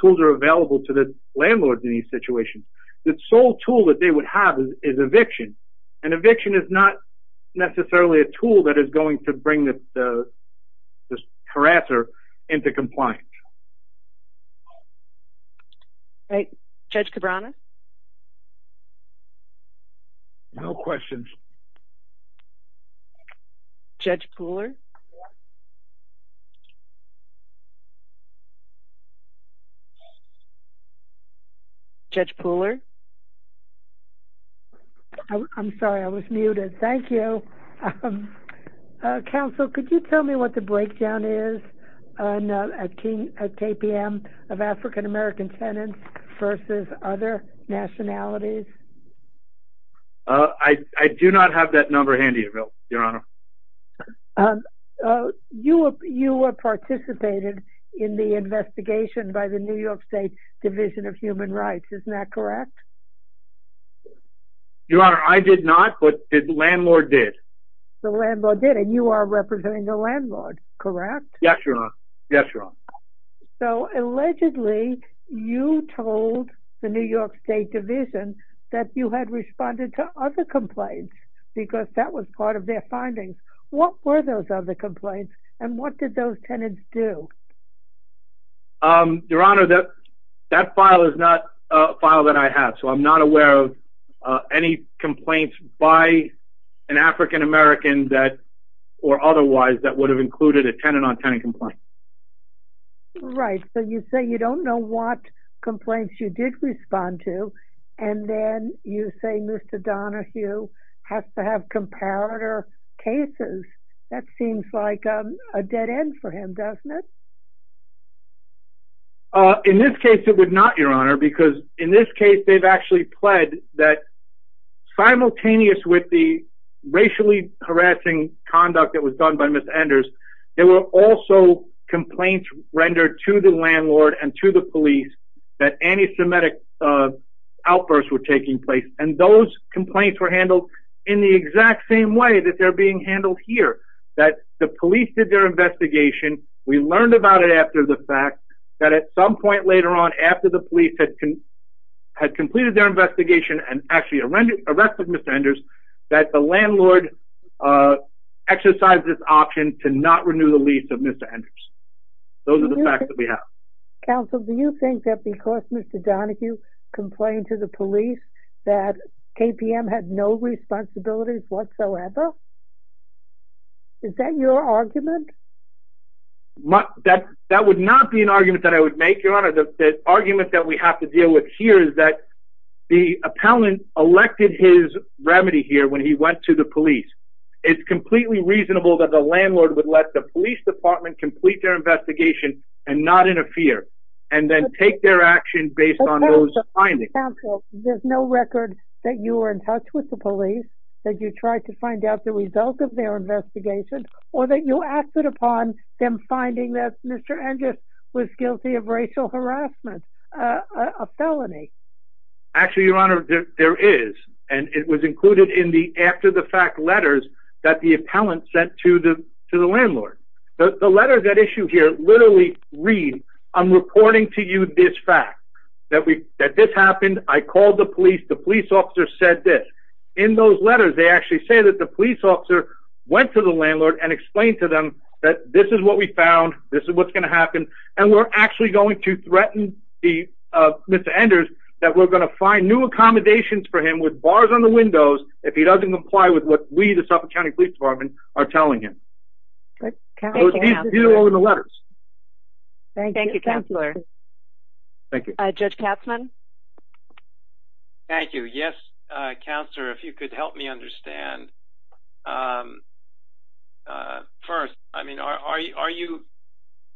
tools are available to the landlords in these situations. The sole tool that they would have is eviction, and eviction is not necessarily a tool that is going to bring this harasser into compliance. Judge Cabrera? No questions. Judge Pooler? Judge Pooler? I'm sorry, I was muted. Thank you. Counsel, could you tell me what the breakdown is on a KPM of African American tenants versus other nationalities? I do not have that number handy, your honor. You were participated in the investigation by the New York State Division of Human Rights. Isn't that correct? Your honor, I did not, but the landlord did. The landlord did, and you are representing the landlord, correct? Yes, your honor. Yes, your honor. So allegedly, you told the New York State Division that you had responded to other complaints because that was part of their findings. What were those other complaints, and what did those tenants do? Your honor, that file is not a file that I have, so I'm not aware of any complaints by an African American or otherwise that would have included a tenant on tenant complaint. Right, so you say you don't know what complaints you did respond to, and then you say Mr. Donahue has to have comparator cases. That seems like a dead end for him, doesn't it? In this case, it would not, your honor, because in this case, they've actually pled that simultaneous with the racially harassing conduct that was done by Ms. Anders, there were also complaints rendered to the landlord and to the police that anti-Semitic outbursts were taking place, and those complaints were handled in the exact same way that they're being handled here, that the police did their investigation, we learned about it after the fact, that at some point later on, after the police had completed their investigation and actually arrested Ms. Anders, that the landlord exercised this option to not renew the lease of Ms. Anders. Those are the facts that we have. Counsel, do you think that because Mr. Donahue complained to the police that KPM had no responsibilities whatsoever? Is that your argument? That would not be an argument that I would make, your honor, the argument that we have to deal with here is that the appellant elected his remedy here when he went to the police. It's completely reasonable that the landlord would let the police department complete their investigation and not interfere, and then take their action based on those findings. Counsel, there's no record that you were in touch with the police, that you tried to find out the result of their investigation or that you acted upon them finding that Mr. Anders was guilty of racial harassment, a felony. Actually, your honor, there is, and it was included in the after the fact letters that the appellant sent to the landlord. The letter that issued here literally read, I'm reporting to you this fact, that this happened, I called the police, the police officer said this. In those letters, they actually say that the police officer went to the landlord and explained to them that this is what we found, this is what's gonna happen, and we're actually going to threaten Mr. Anders that we're gonna find new accommodations for him with bars on the windows if he doesn't comply with what we, the Suffolk County Police Department, are telling him. It was in the letters. Thank you, counselor. Okay, thank you. Judge Katzmann. Thank you, yes, counselor, if you could help me understand. First, I mean, are you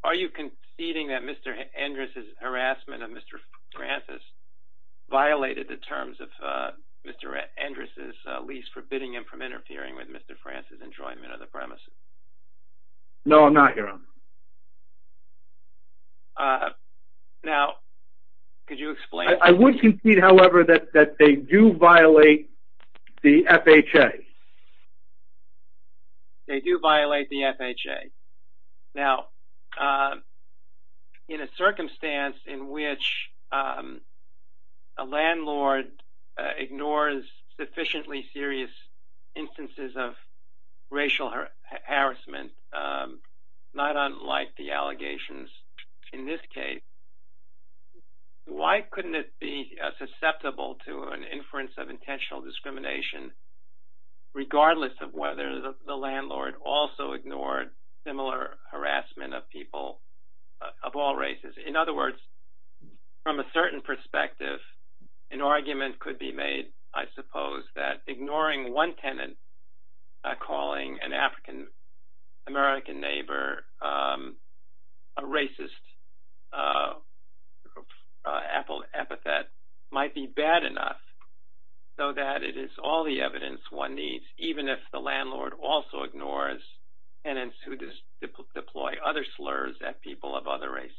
conceding that Mr. Anders' harassment of Mr. Francis violated the terms of Mr. Anders' lease forbidding him from interfering with Mr. Francis' enjoyment of the premises? No, not your honor. Now, could you explain? I would concede, however, that they do violate the FHA. They do violate the FHA. Now, in a circumstance in which a landlord ignores sufficiently serious instances of racial harassment, not unlike the allegations in this case, why couldn't it be susceptible to an inference of intentional discrimination regardless of whether the landlord also ignored similar harassment of people of all races? In other words, from a certain perspective, an argument could be made, I suppose, that ignoring one tenant calling an African-American neighbor a racist epithet might be bad enough so that it is all the evidence one needs, even if the landlord also ignores tenants who deploy other slurs at people of other races.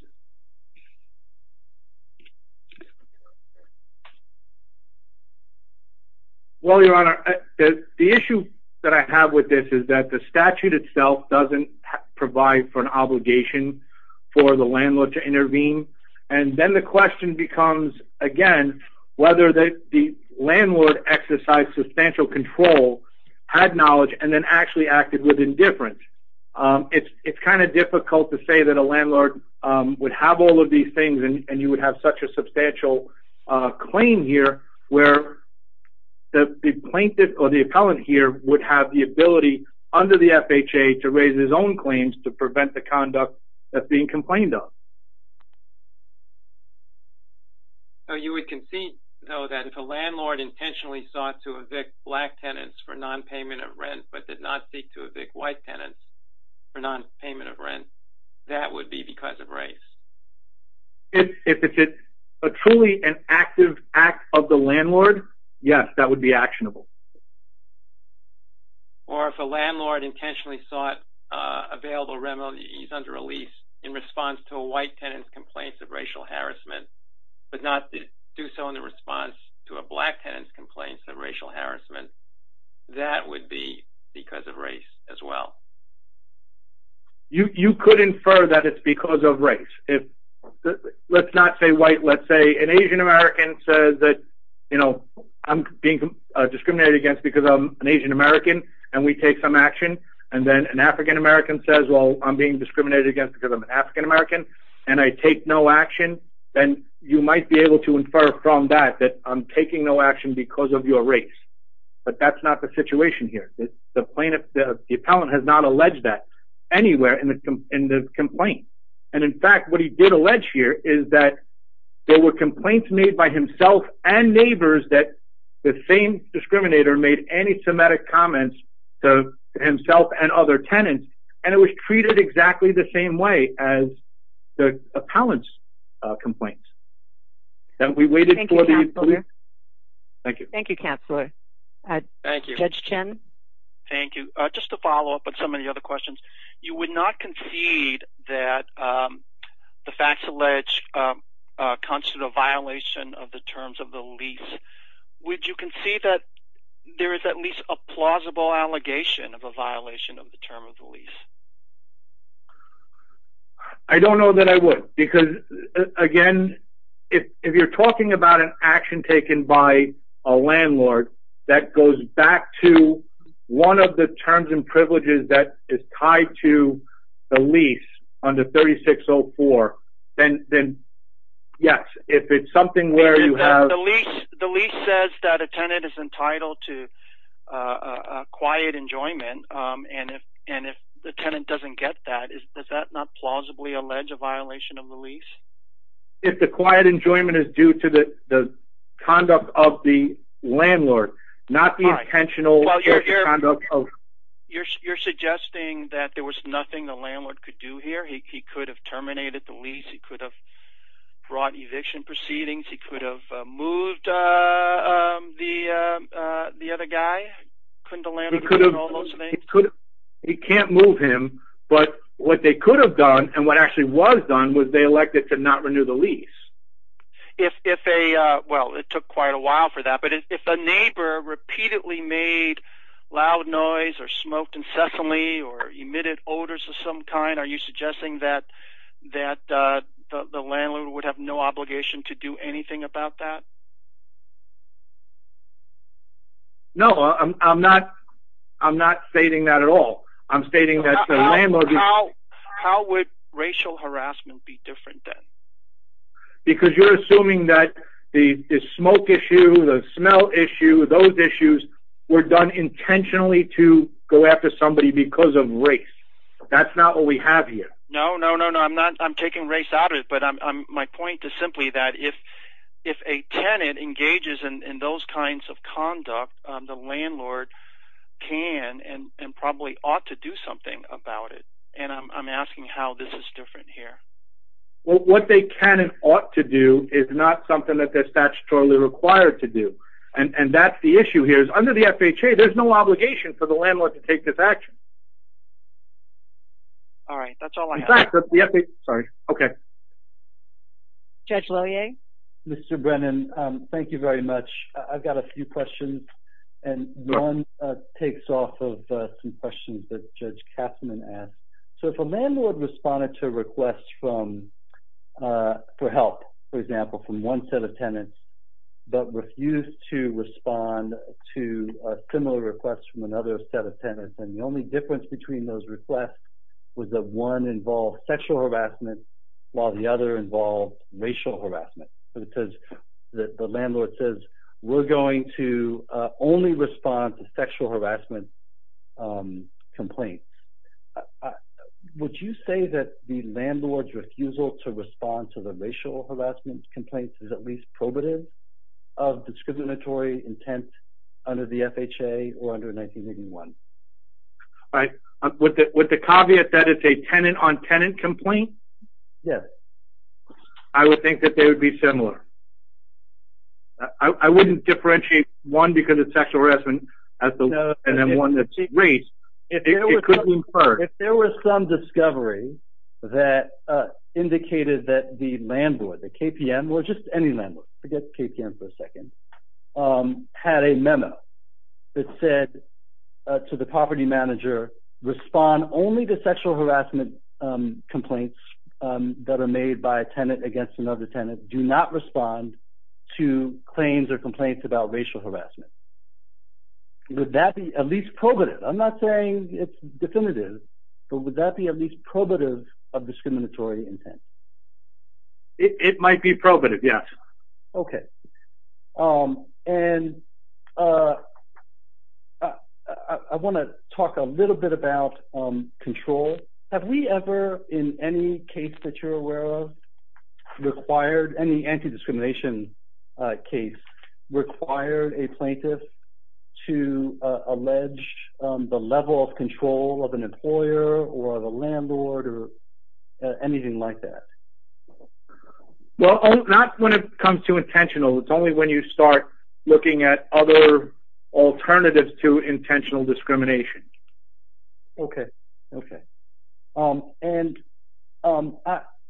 Well, your honor, the issue that I have with this is that the statute itself doesn't provide for an obligation for the landlord to intervene. And then the question becomes, again, whether the landlord exercised substantial control, had knowledge, and then actually acted with indifference. It's kind of difficult to say that a landlord would have all of these things and you would have such a substantial claim here where the plaintiff or the appellant here would have the ability under the FHA to raise his own claims to prevent the conduct that's being complained of. So you would concede, though, that if a landlord intentionally sought to evict black tenants for non-payment of rent but did not seek to evict white tenants for non-payment of rent, that would be because of race. If it's a truly an active act of the landlord, yes, that would be actionable. Or if a landlord intentionally sought available remedies under a lease in response to a white tenant's complaints of racial harassment, but not to do so in response to a black tenant's complaints of racial harassment, that would be because of race as well. You could infer that it's because of race. Let's not say white, let's say an Asian-American says that, you know, I'm being discriminated against because I'm an Asian-American and we take some action. And then an African-American says, well, I'm being discriminated against because I'm an African-American and I take no action. Then you might be able to infer from that that I'm taking no action because of your race. But that's not the situation here. The plaintiff, the appellant has not alleged that anywhere in the complaint. And in fact, what he did allege here is that there were complaints made by himself and neighbors that the same discriminator made anti-Semitic comments to himself and other tenants. And it was treated exactly the same way as the appellant's complaints. And we waited for the- Thank you, Counselor. Thank you. Thank you, Counselor. Thank you. Judge Kim. Thank you. Just to follow up on some of the other questions, you would not concede that the facts alleged comes to the violation of the terms of the lease. Would you concede that there is at least a plausible allegation of a violation of the term of the lease? I don't know that I would, because again, if you're talking about an action taken by a landlord that goes back to one of the terms and privileges that is tied to the lease under 3604, then yes, if it's something where you have- The lease says that a tenant is entitled to a quiet enjoyment. And if the tenant doesn't get that, does that not plausibly allege a violation of the lease? If the quiet enjoyment is due to the conduct of the landlord, not the intentional conduct of- You're suggesting that there was nothing the landlord could do here? He could have terminated the lease. He could have brought eviction proceedings. He could have moved the other guy. Couldn't the landlord do all those things? He can't move him, but what they could have done, and what actually was done, was they elected to not renew the lease. If a, well, it took quite a while for that, but if a neighbor repeatedly made loud noise or smoked incessantly or emitted odors of some kind, are you suggesting that the landlord would have no obligation to do anything about that? No, I'm not stating that at all. I'm stating that the landlord- How would racial harassment be different then? Because you're assuming that the smoke issue, the smell issue, those issues were done intentionally to go after somebody because of race. That's not what we have here. No, no, no, no, I'm not, I'm taking race out of it, but my point is simply that if a tenant engages in those kinds of conduct, the landlord can and probably ought to do something about it. And I'm asking how this is different here. Well, what they can and ought to do is not something that they're statutorily required to do. And that's the issue here is under the FHA, there's no obligation for the landlord to take this action. All right, that's all I have. In fact, the FHA, sorry, okay. Judge Lillie? Mr. Brennan, thank you very much. I've got a few questions, and Ron takes off some questions that Judge Kasterman asked. So if a landlord responded to a request for help, for example, from one set of tenants, but refused to respond to a similar request from another set of tenants, then the only difference between those requests was that one involved sexual harassment while the other involved racial harassment. Because the landlord says, we're going to only respond to sexual harassment complaints. Would you say that the landlord's refusal to respond to the racial harassment complaints is at least probative of discriminatory intent under the FHA or under 1981? With the caveat that it's a tenant-on-tenant complaint? Yes. I would think that they would be similar. I wouldn't differentiate one because of sexual harassment and then one that's race, it could be inferred. If there was some discovery that indicated that the landlord, the KPM, or just any landlord, forget the KPM for a second, had a memo that said to the property manager, respond only to sexual harassment complaints that are made by a tenant against another tenant, do not respond to claims or complaints about racial harassment. Would that be at least probative? I'm not saying it's definitive, but would that be at least probative of discriminatory intent? It might be probative, yes. Okay. And I want to talk a little bit about control. Have we ever, in any case that you're aware of, required, any anti-discrimination case, required a plaintiff to allege the level of control of an employer or of a landlord or anything like that? Well, not when it comes to intentional. It's only when you start looking at other alternatives to intentional discrimination. Okay, okay. And I'm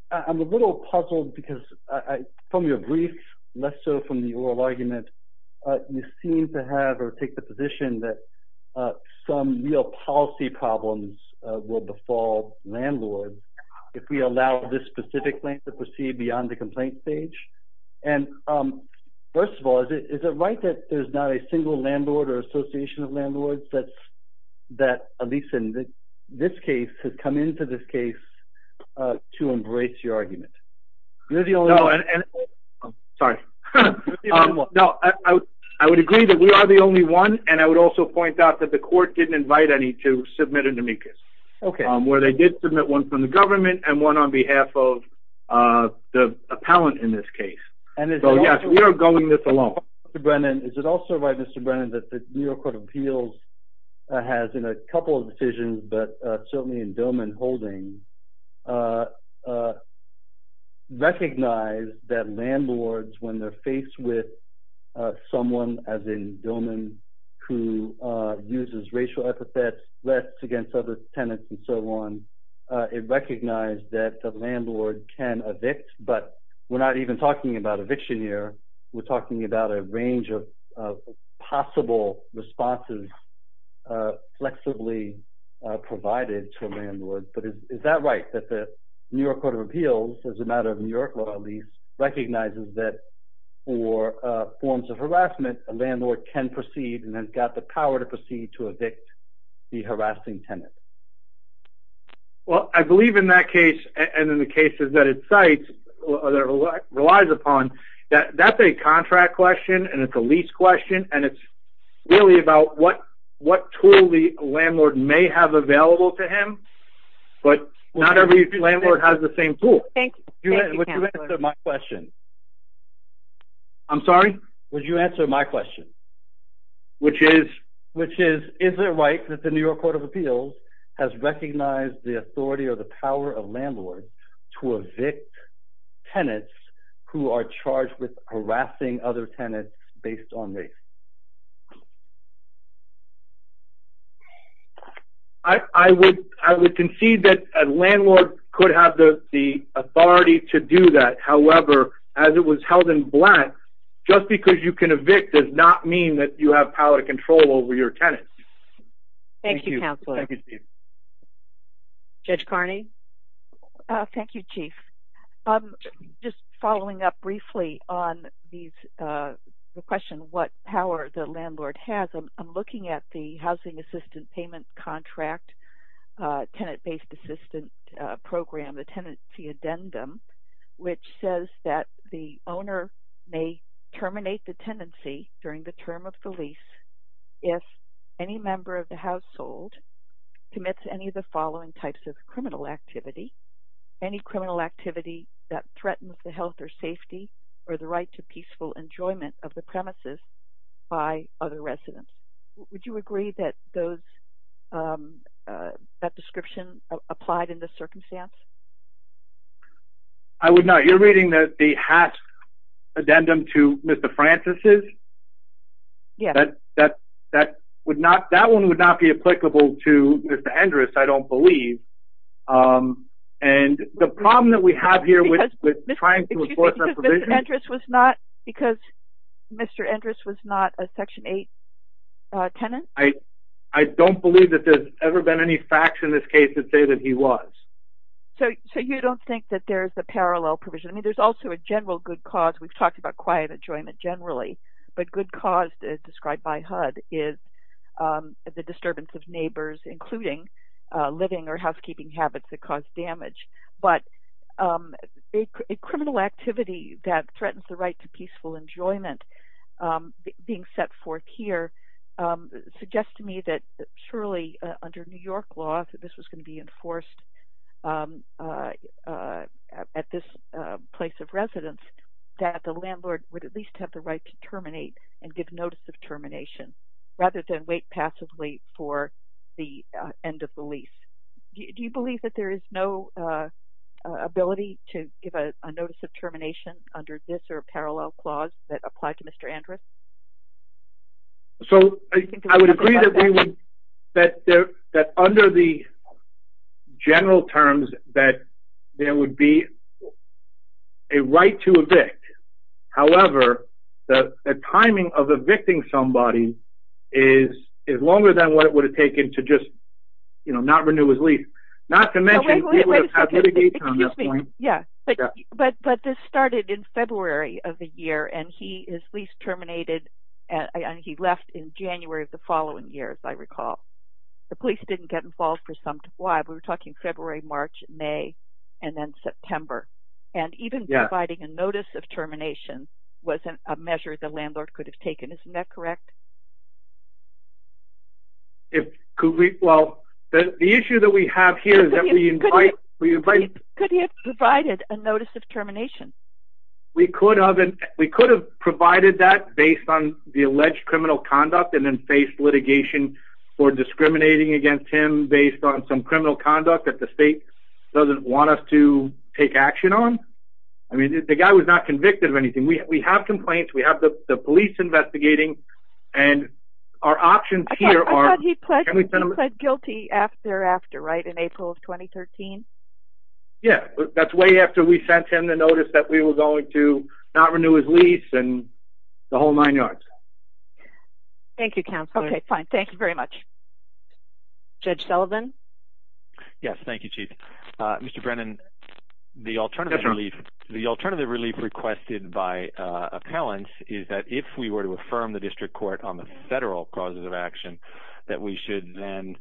a little puzzled because from your brief, less so from your argument, you seem to have or take the position that some real policy problems will befall landlords if we allow this specific plaintiff to proceed beyond the complaint stage. And first of all, is it right that there's not a single landlord or association of landlords that at least in this case, has come into this case to embrace your argument? You're the only one. Sorry. No, I would agree that we are the only one, and I would also point out that the court didn't invite any to submit an amicus. Okay. Where they did submit one from the government and one on behalf of the appellant in this case. And it's- So yes, we are going this alone. Mr. Brennan, is it also right, Mr. Brennan, that the New York Court of Appeals has in a couple of decisions, but certainly in Dillman holding, recognize that landlords, when they're faced with someone, as in Dillman, who uses racial epithets, threats against other tenants and so on, it recognized that the landlord can evict, but we're not even talking about eviction here. We're talking about a range of possible responses flexibly provided to a landlord. But is that right, that the New York Court of Appeals, as a matter of New York law at least, recognizes that for forms of harassment, a landlord can proceed and has got the power to proceed to evict the harassing tenant? Well, I believe in that case, and in the cases that it cites or that it relies upon, that's a contract question, and it's a lease question, and it's really about what tool the landlord may have available to him, but not every landlord has the same tool. Thank you. Would you answer my question? I'm sorry? Would you answer my question? Which is? Which is, is it right that the New York Court of Appeals has recognized the authority or the power of landlords to evict tenants who are charged with harassing other tenants based on this? I would concede that a landlord could have the authority to do that. However, as it was held in black, just because you can evict does not mean that you have power to control over your tenants. Thank you, counselor. Thank you, Steve. Judge Carney? Thank you, Chief. I'm just following up briefly on the question of what power the landlord has. I'm looking at the Housing Assistance Payment Contract Tenant-Based Assistance Program, the tenancy addendum, which says that the owner may terminate the tenancy during the term of the lease if any member of the household commits any of the following types of criminal activity, any criminal activity that threatens the health or safety or the right to peaceful enjoyment of the premises by other residents. Would you agree that those, that description applied in this circumstance? I would not. You're reading that the HACS addendum to Mr. Francis's? Yes. That one would not be applicable to Mr. Endres, I don't believe. And the problem that we have here with trying to enforce that provision. Because Mr. Endres was not a Section 8 tenant? I don't believe that there's ever been any facts in this case that say that he was. So you don't think that there's a parallel provision? I mean, there's also a general good cause. We've talked about quiet enjoyment generally, but good cause, as described by HUD, is the disturbance of neighbors, including living or housekeeping habits that cause damage. But a criminal activity that threatens the right to peaceful enjoyment being set forth here, suggests to me that surely under New York law, that this was gonna be enforced at this place of residence, that the landlord would at least have the right to terminate and give notice of termination rather than wait passively for the end of the lease. Do you believe that there is no ability to give a notice of termination under this or a parallel clause that applied to Mr. Endres? So I would agree that under the general terms that there would be a right to evict. However, the timing of evicting somebody is longer than what it would have taken to just not renew his lease. Not to mention- Wait, wait, wait, excuse me. Yeah, but this started in February of the year and he is leased terminated and he left in January of the following year, as I recall. The police didn't get involved for some time. We were talking February, March, May, and then September. And even providing a notice of termination wasn't a measure the landlord could have taken. Isn't that correct? Well, the issue that we have here is that we invite- Could he have provided a notice of termination? We could have provided that based on the alleged criminal conduct and then faced litigation for discriminating against him based on some criminal conduct that the state doesn't want us to take action on. I mean, the guy was not convicted of anything. We have complaints, we have the police investigating, and our options here are- He pled guilty after after, right? In April of 2013? Yeah, that's way after we sent him the notice that we were going to not renew his lease and the whole nine yards. Thank you, Counselor. Okay, fine, thank you very much. Judge Sullivan? Yes, thank you, Chief. Mr. Brennan, the alternative relief requested by appellants is that if we were to affirm the District Court on the federal causes of action, that we should then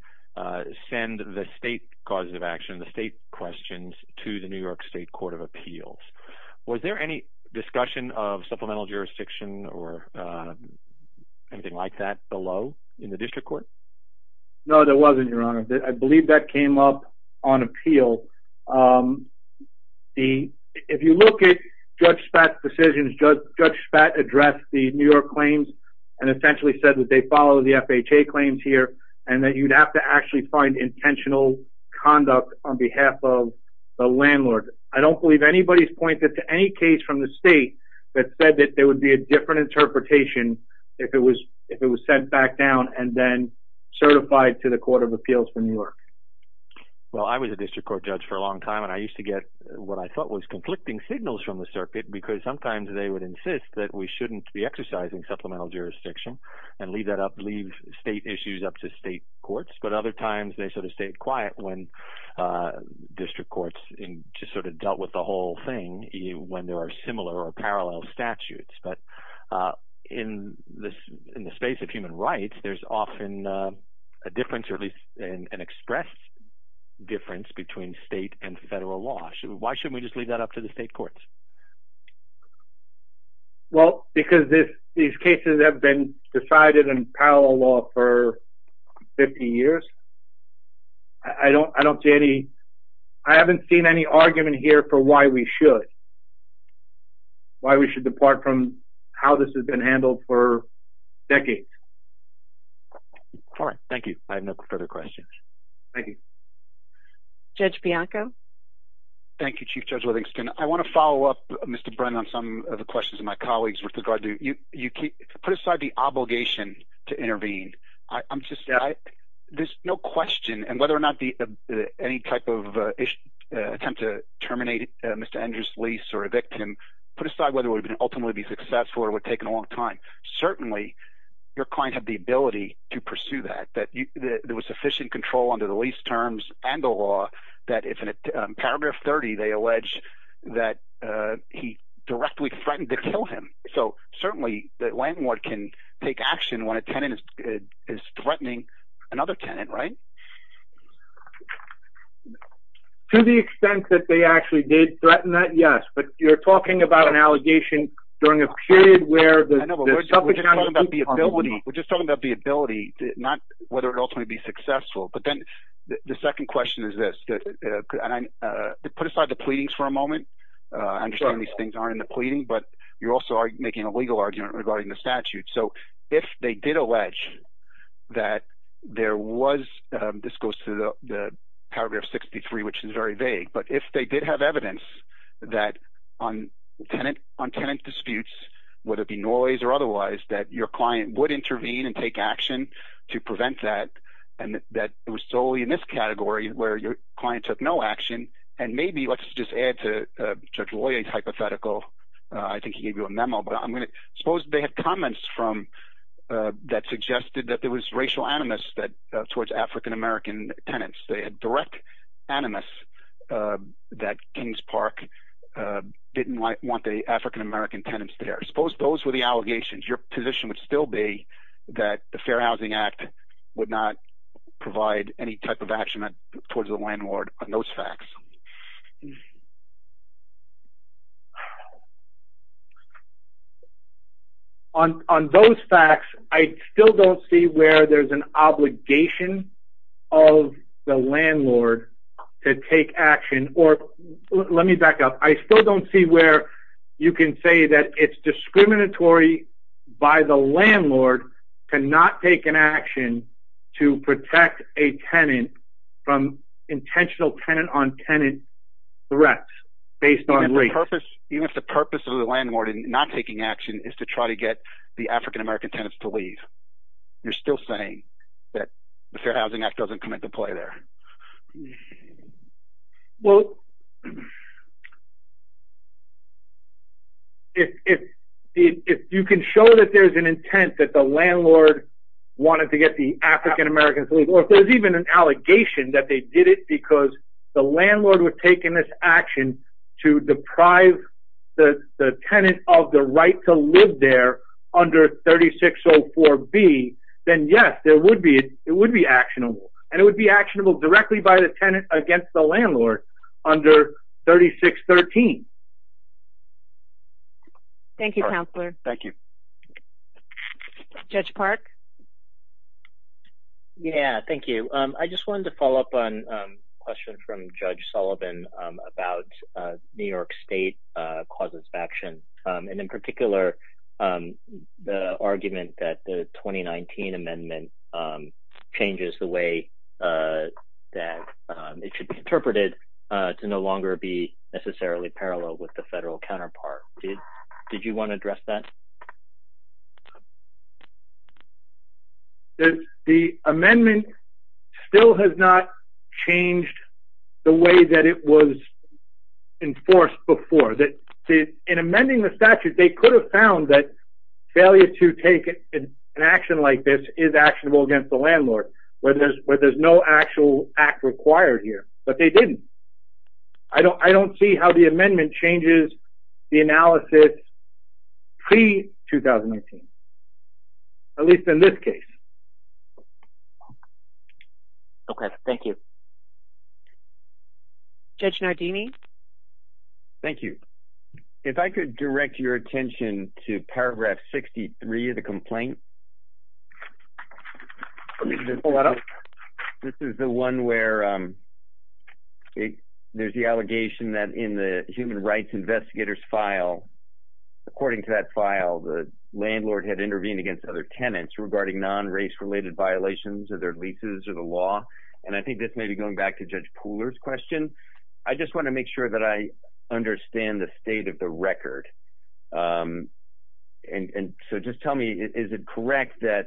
send the state causes of action, the state questions to the New York State Court of Appeals. Was there any discussion of supplemental jurisdiction or anything like that below in the District Court? No, there wasn't, Your Honor. I believe that came up on appeal. If you look at Judge Spatz's decisions, Judge Spatz addressed the New York claims and essentially said that they follow the FHA claims here and that you'd have to actually find intentional conduct on behalf of the landlord. I don't believe anybody's pointed to any case from the state that said that there would be a different interpretation if it was sent back down and then certified to the Court of Appeals for New York. Well, I was a District Court judge for a long time and I used to get what I thought was conflicting signals from the circuit because sometimes they would insist that we shouldn't be exercising supplemental jurisdiction and leave that up, leave state issues up to state courts. But other times they sort of stayed quiet when District Courts just sort of dealt with the whole thing when there are similar or parallel statutes. But in the space of human rights, there's often a difference or at least an express difference between state and federal law. Why shouldn't we just leave that up to the state courts? Well, because these cases have been decided in parallel law for 50 years. I don't see any, I haven't seen any argument here for why we should, why we should depart from how this has been handled for decades. All right, thank you. I have no further questions. Thank you. Judge Bianco. Thank you, Chief Judge Livingston. I want to follow up, Mr. Brennan, on some of the questions of my colleagues with regard to, put aside the obligation to intervene. I'm just, there's no question and whether or not any type of attempt to terminate Mr. Andrews' lease or evict him, put aside whether it would ultimately be successful or would take a long time. Certainly your client had the ability to pursue that, that there was sufficient control under the lease terms and the law that it's in paragraph 30, they allege that he directly threatened to kill him. So certainly the landlord can take action when a tenant is threatening another tenant, right? To the extent that they actually did threaten that, yes. But you're talking about an allegation during a period where the- I know, but we're just talking about the ability, we're just talking about the ability, not whether it ultimately would be successful. But then the second question is this, put aside the pleadings for a moment, understanding these things aren't in the pleading, but you're also making a legal argument regarding the statute. So if they did allege that there was, this goes to the paragraph 63, which is very vague, but if they did have evidence that on tenant disputes, whether it be noise or otherwise, that your client would intervene and take action to prevent that, and that it was solely in this category where your client took no action, and maybe let's just add to Judge Loya's hypothetical, I think he gave you a memo, but I'm gonna, suppose they had comments from, that suggested that there was racial animus towards African-American tenants. They had direct animus that Kings Park didn't want the African-American tenants there. Suppose those were the allegations, your position would still be that the Fair Housing Act would not provide any type of action towards the landlord on those facts. On those facts, I still don't see where there's an obligation of the landlord to take action, or let me back up. I still don't see where you can say that it's discriminatory by the landlord to not take an action to protect a tenant from intentional tenant on tenant threats based on race. Even if the purpose of the landlord in not taking action is to try to get the African-American tenants to leave, you're still saying that the Fair Housing Act doesn't come into play there. Yeah, well, if you can show that there's an intent that the landlord wanted to get the African-American to leave, or if there's even an allegation that they did it because the landlord was taking this action to deprive the tenant of the right to live there under 3604B, then yes, it would be actionable. And it would be actionable directly by the tenant against the landlord under 3613. Thank you, counselor. Thank you. Judge Park. Yeah, thank you. I just wanted to follow up on a question from Judge Sullivan about New York State causes of action. And in particular, the argument that the 2019 amendment changes the way that it should be interpreted to no longer be necessarily parallel with the federal counterpart. Did you want to address that? The amendment still has not changed the way that it was enforced before. In amending the statute, they could have found that failure to take an action like this is actionable against the landlord, where there's no actual act required here, but they didn't. I don't see how the amendment changes the analysis pre-2019, at least in this case. Okay, thank you. Judge Nardini. Thank you. If I could direct your attention to paragraph 63 of the complaint. This is the one where there's the allegation that in the human rights investigators file, according to that file, the landlord had intervened against other tenants regarding non-race related violations of their leases or the law. And I think this may be going back to Judge Pooler's question. I just want to make sure that I understand the state of the record. And so just tell me, is it correct that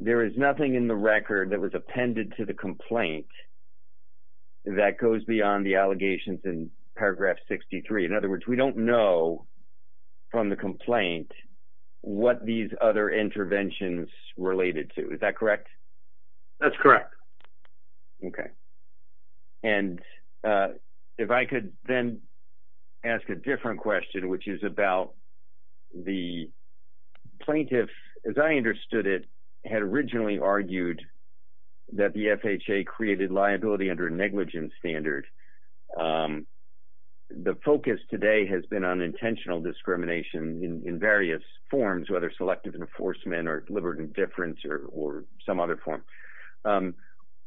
there is nothing in the record that was appended to the complaint that goes beyond the allegations in paragraph 63? In other words, we don't know from the complaint what these other interventions related to, is that correct? That's correct. Okay. And if I could then ask a different question, which is about the plaintiff, as I understood it, had originally argued that the FHA created liability under a negligence standard. The focus today has been on intentional discrimination in various forms, whether selective enforcement or deliberate indifference or some other form.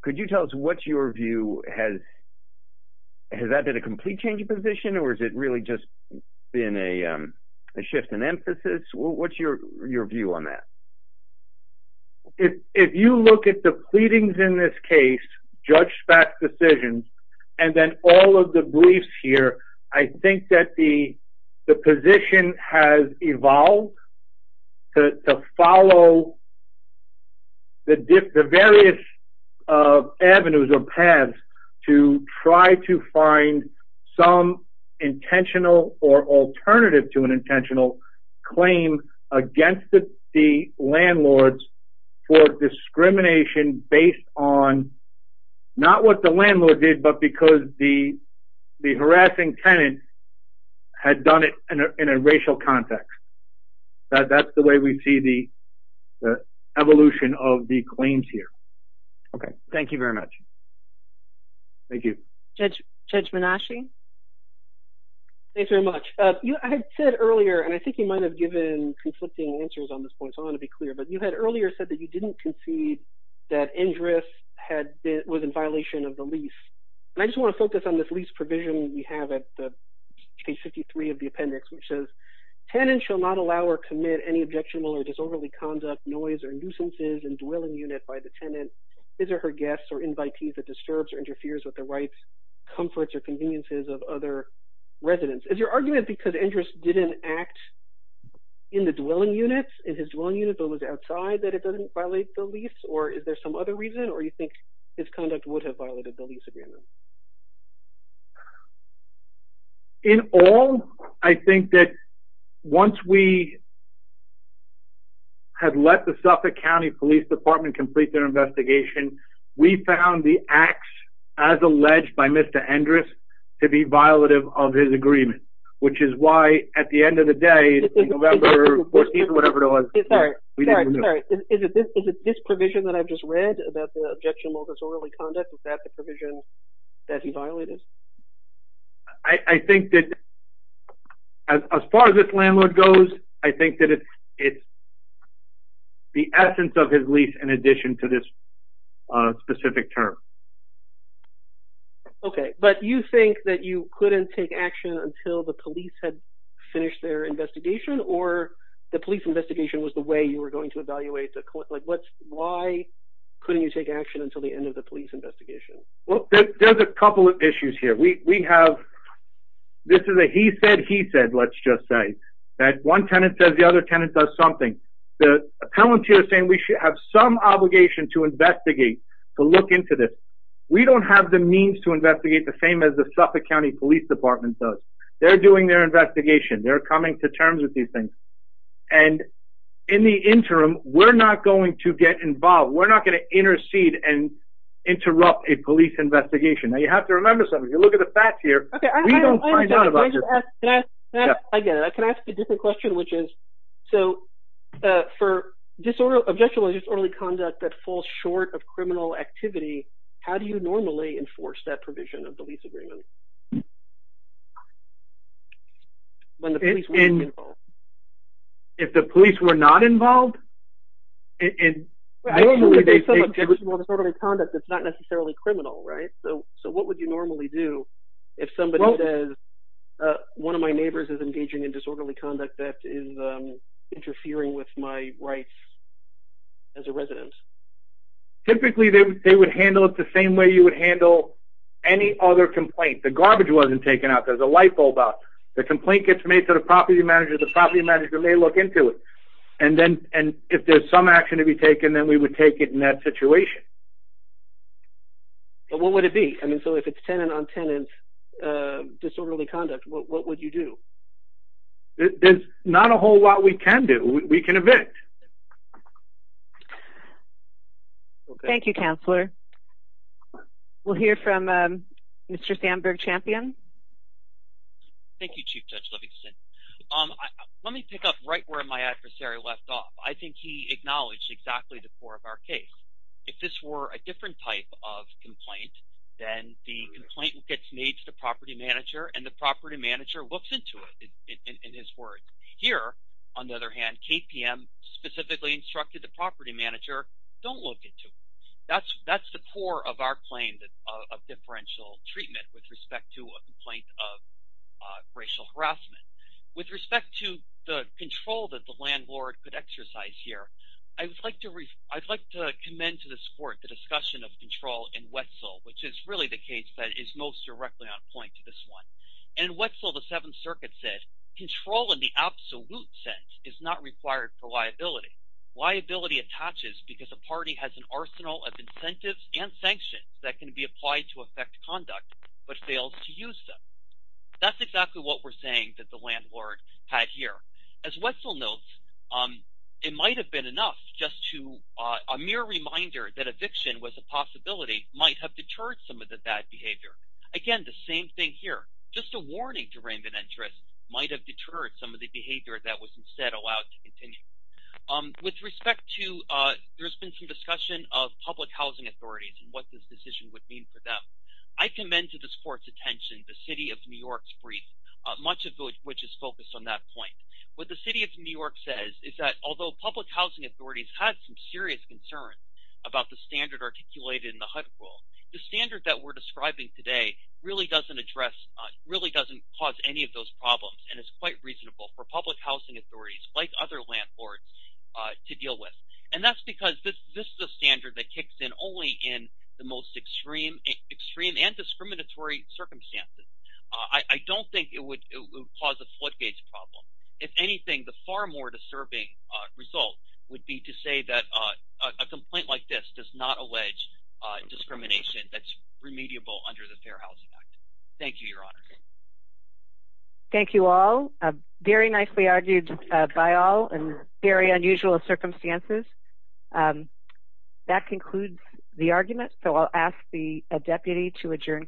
Could you tell us what's your view has, has that been a complete change of position or is it really just been a shift in emphasis? What's your view on that? If you look at the pleadings in this case, Judge Spak's decisions, and then all of the briefs here, I think that the position has evolved to follow the various avenues or paths to try to find some intentional or alternative to an intentional claim against the landlords for discrimination based on not what the landlord did, but because the harassing tenant had done it in a racial context. That's the way we see the evolution of the claims here. Okay, thank you very much. Thank you. Judge Menasche. Thanks very much. I had said earlier, and I think you might have given conflicting answers on this point, so I wanna be clear, but you had earlier said that you didn't concede that Indris was in violation of the lease. And I just wanna focus on this lease provision we have at page 53 of the appendix, which says, tenant shall not allow or commit any objectionable or disorderly conduct, noise, or nuisances in dwelling unit by the tenant, his or her guests, or invitees that disturbs or interferes with the rights, comforts, or conveniences of other residents. Is your argument because Indris didn't act in the dwelling unit, in his dwelling unit, but was outside that it doesn't violate the lease, or is there some other reason, or you think his conduct would have violated the lease agreement? In all, I think that once we have let the Suffolk County Police Department complete their investigation, we found the acts as alleged by Mr. Indris to be violative of his agreement, which is why, at the end of the day, November 14th, whatever it was, we didn't remove it. Sorry, sorry, sorry, is it this provision that I've just read about the objectionable or disorderly conduct, is that the provision that he violated? I think that, as far as this landlord goes, I think that it's the essence of his lease in addition to this specific term. Okay, but you think that you couldn't take action until the police had finished their investigation, or the police investigation was the way you were going to evaluate the, why couldn't you take action until the end of the police investigation? There's a couple of issues here. We have, this is a he said, he said, let's just say, that one tenant says the other tenant does something. The appellant here is saying we should have some obligation to investigate, to look into this. We don't have the means to investigate the same as the Suffolk County Police Department does. They're doing their investigation. They're coming to terms with these things. And in the interim, we're not going to get involved. And interrupt a police investigation. Now you have to remember something. If you look at the facts here, we don't find out about this. I get it. I can ask a different question, which is, so for objectionable disorderly conduct that falls short of criminal activity, how do you normally enforce that provision of the lease agreement? When the police were not involved. If the police were not involved? In, normally they say, if it's disorderly conduct, it's not necessarily criminal, right? So, so what would you normally do if somebody says, one of my neighbors is engaging in disorderly conduct that is interfering with my rights as a resident? Typically they would handle it the same way you would handle any other complaint. The garbage wasn't taken out. There's a light bulb out. The complaint gets made to the property manager. The property manager may look into it. And then, and if there's some action to be taken, then we would take it in that situation. And what would it be? I mean, so if it's tenant on tenant disorderly conduct, what would you do? There's not a whole lot we can do. We can evict. Thank you, Counselor. We'll hear from Mr. Sandberg-Champion. Thank you, Chief Judge Livingston. Let me pick up right where my adversary left off. I think he acknowledged exactly the core of our case. If this were a different type of complaint, then the complaint gets made to the property manager and the property manager looks into it in his court. Here, on the other hand, KPM specifically instructed the property manager, don't look into it. That's the core of our claim of differential treatment with respect to a complaint of racial harassment. With respect to the control that the landlord could exercise here, I'd like to commend to this court the discussion of control in Wetzel, which is really the case that is most directly on point to this one. And Wetzel, the Seventh Circuit said, control in the absolute sense is not required for liability. Liability attaches because a party has an arsenal of incentives and sanctions that can be applied to affect conduct, but fails to use them. That's exactly what we're saying that the landlord had here. As Wetzel notes, it might've been enough just to a mere reminder that eviction was a possibility might have deterred some of the bad behavior. Again, the same thing here, just a warning to raiment interest might have deterred some of the behavior that was instead allowed to continue. With respect to, there's been some discussion of public housing authorities and what this decision would mean for them. I commend to this court's attention the City of New York's brief, much of which is focused on that point. What the City of New York says is that although public housing authorities had some serious concerns about the standard articulated in the HUD rule, the standard that we're describing today really doesn't address, really doesn't cause any of those problems. And it's quite reasonable for public housing authorities like other landlords to deal with. And that's because this is a standard that kicks in only in the most extreme and discriminatory circumstances. I don't think it would cause a floodgates problem. If anything, the far more disturbing result would be to say that a complaint like this does not allege discrimination that's remediable under the Fair Housing Act. Thank you, Your Honor. Thank you all. Very nicely argued by all in very unusual circumstances. That concludes the argument. So I'll ask the deputy to adjourn.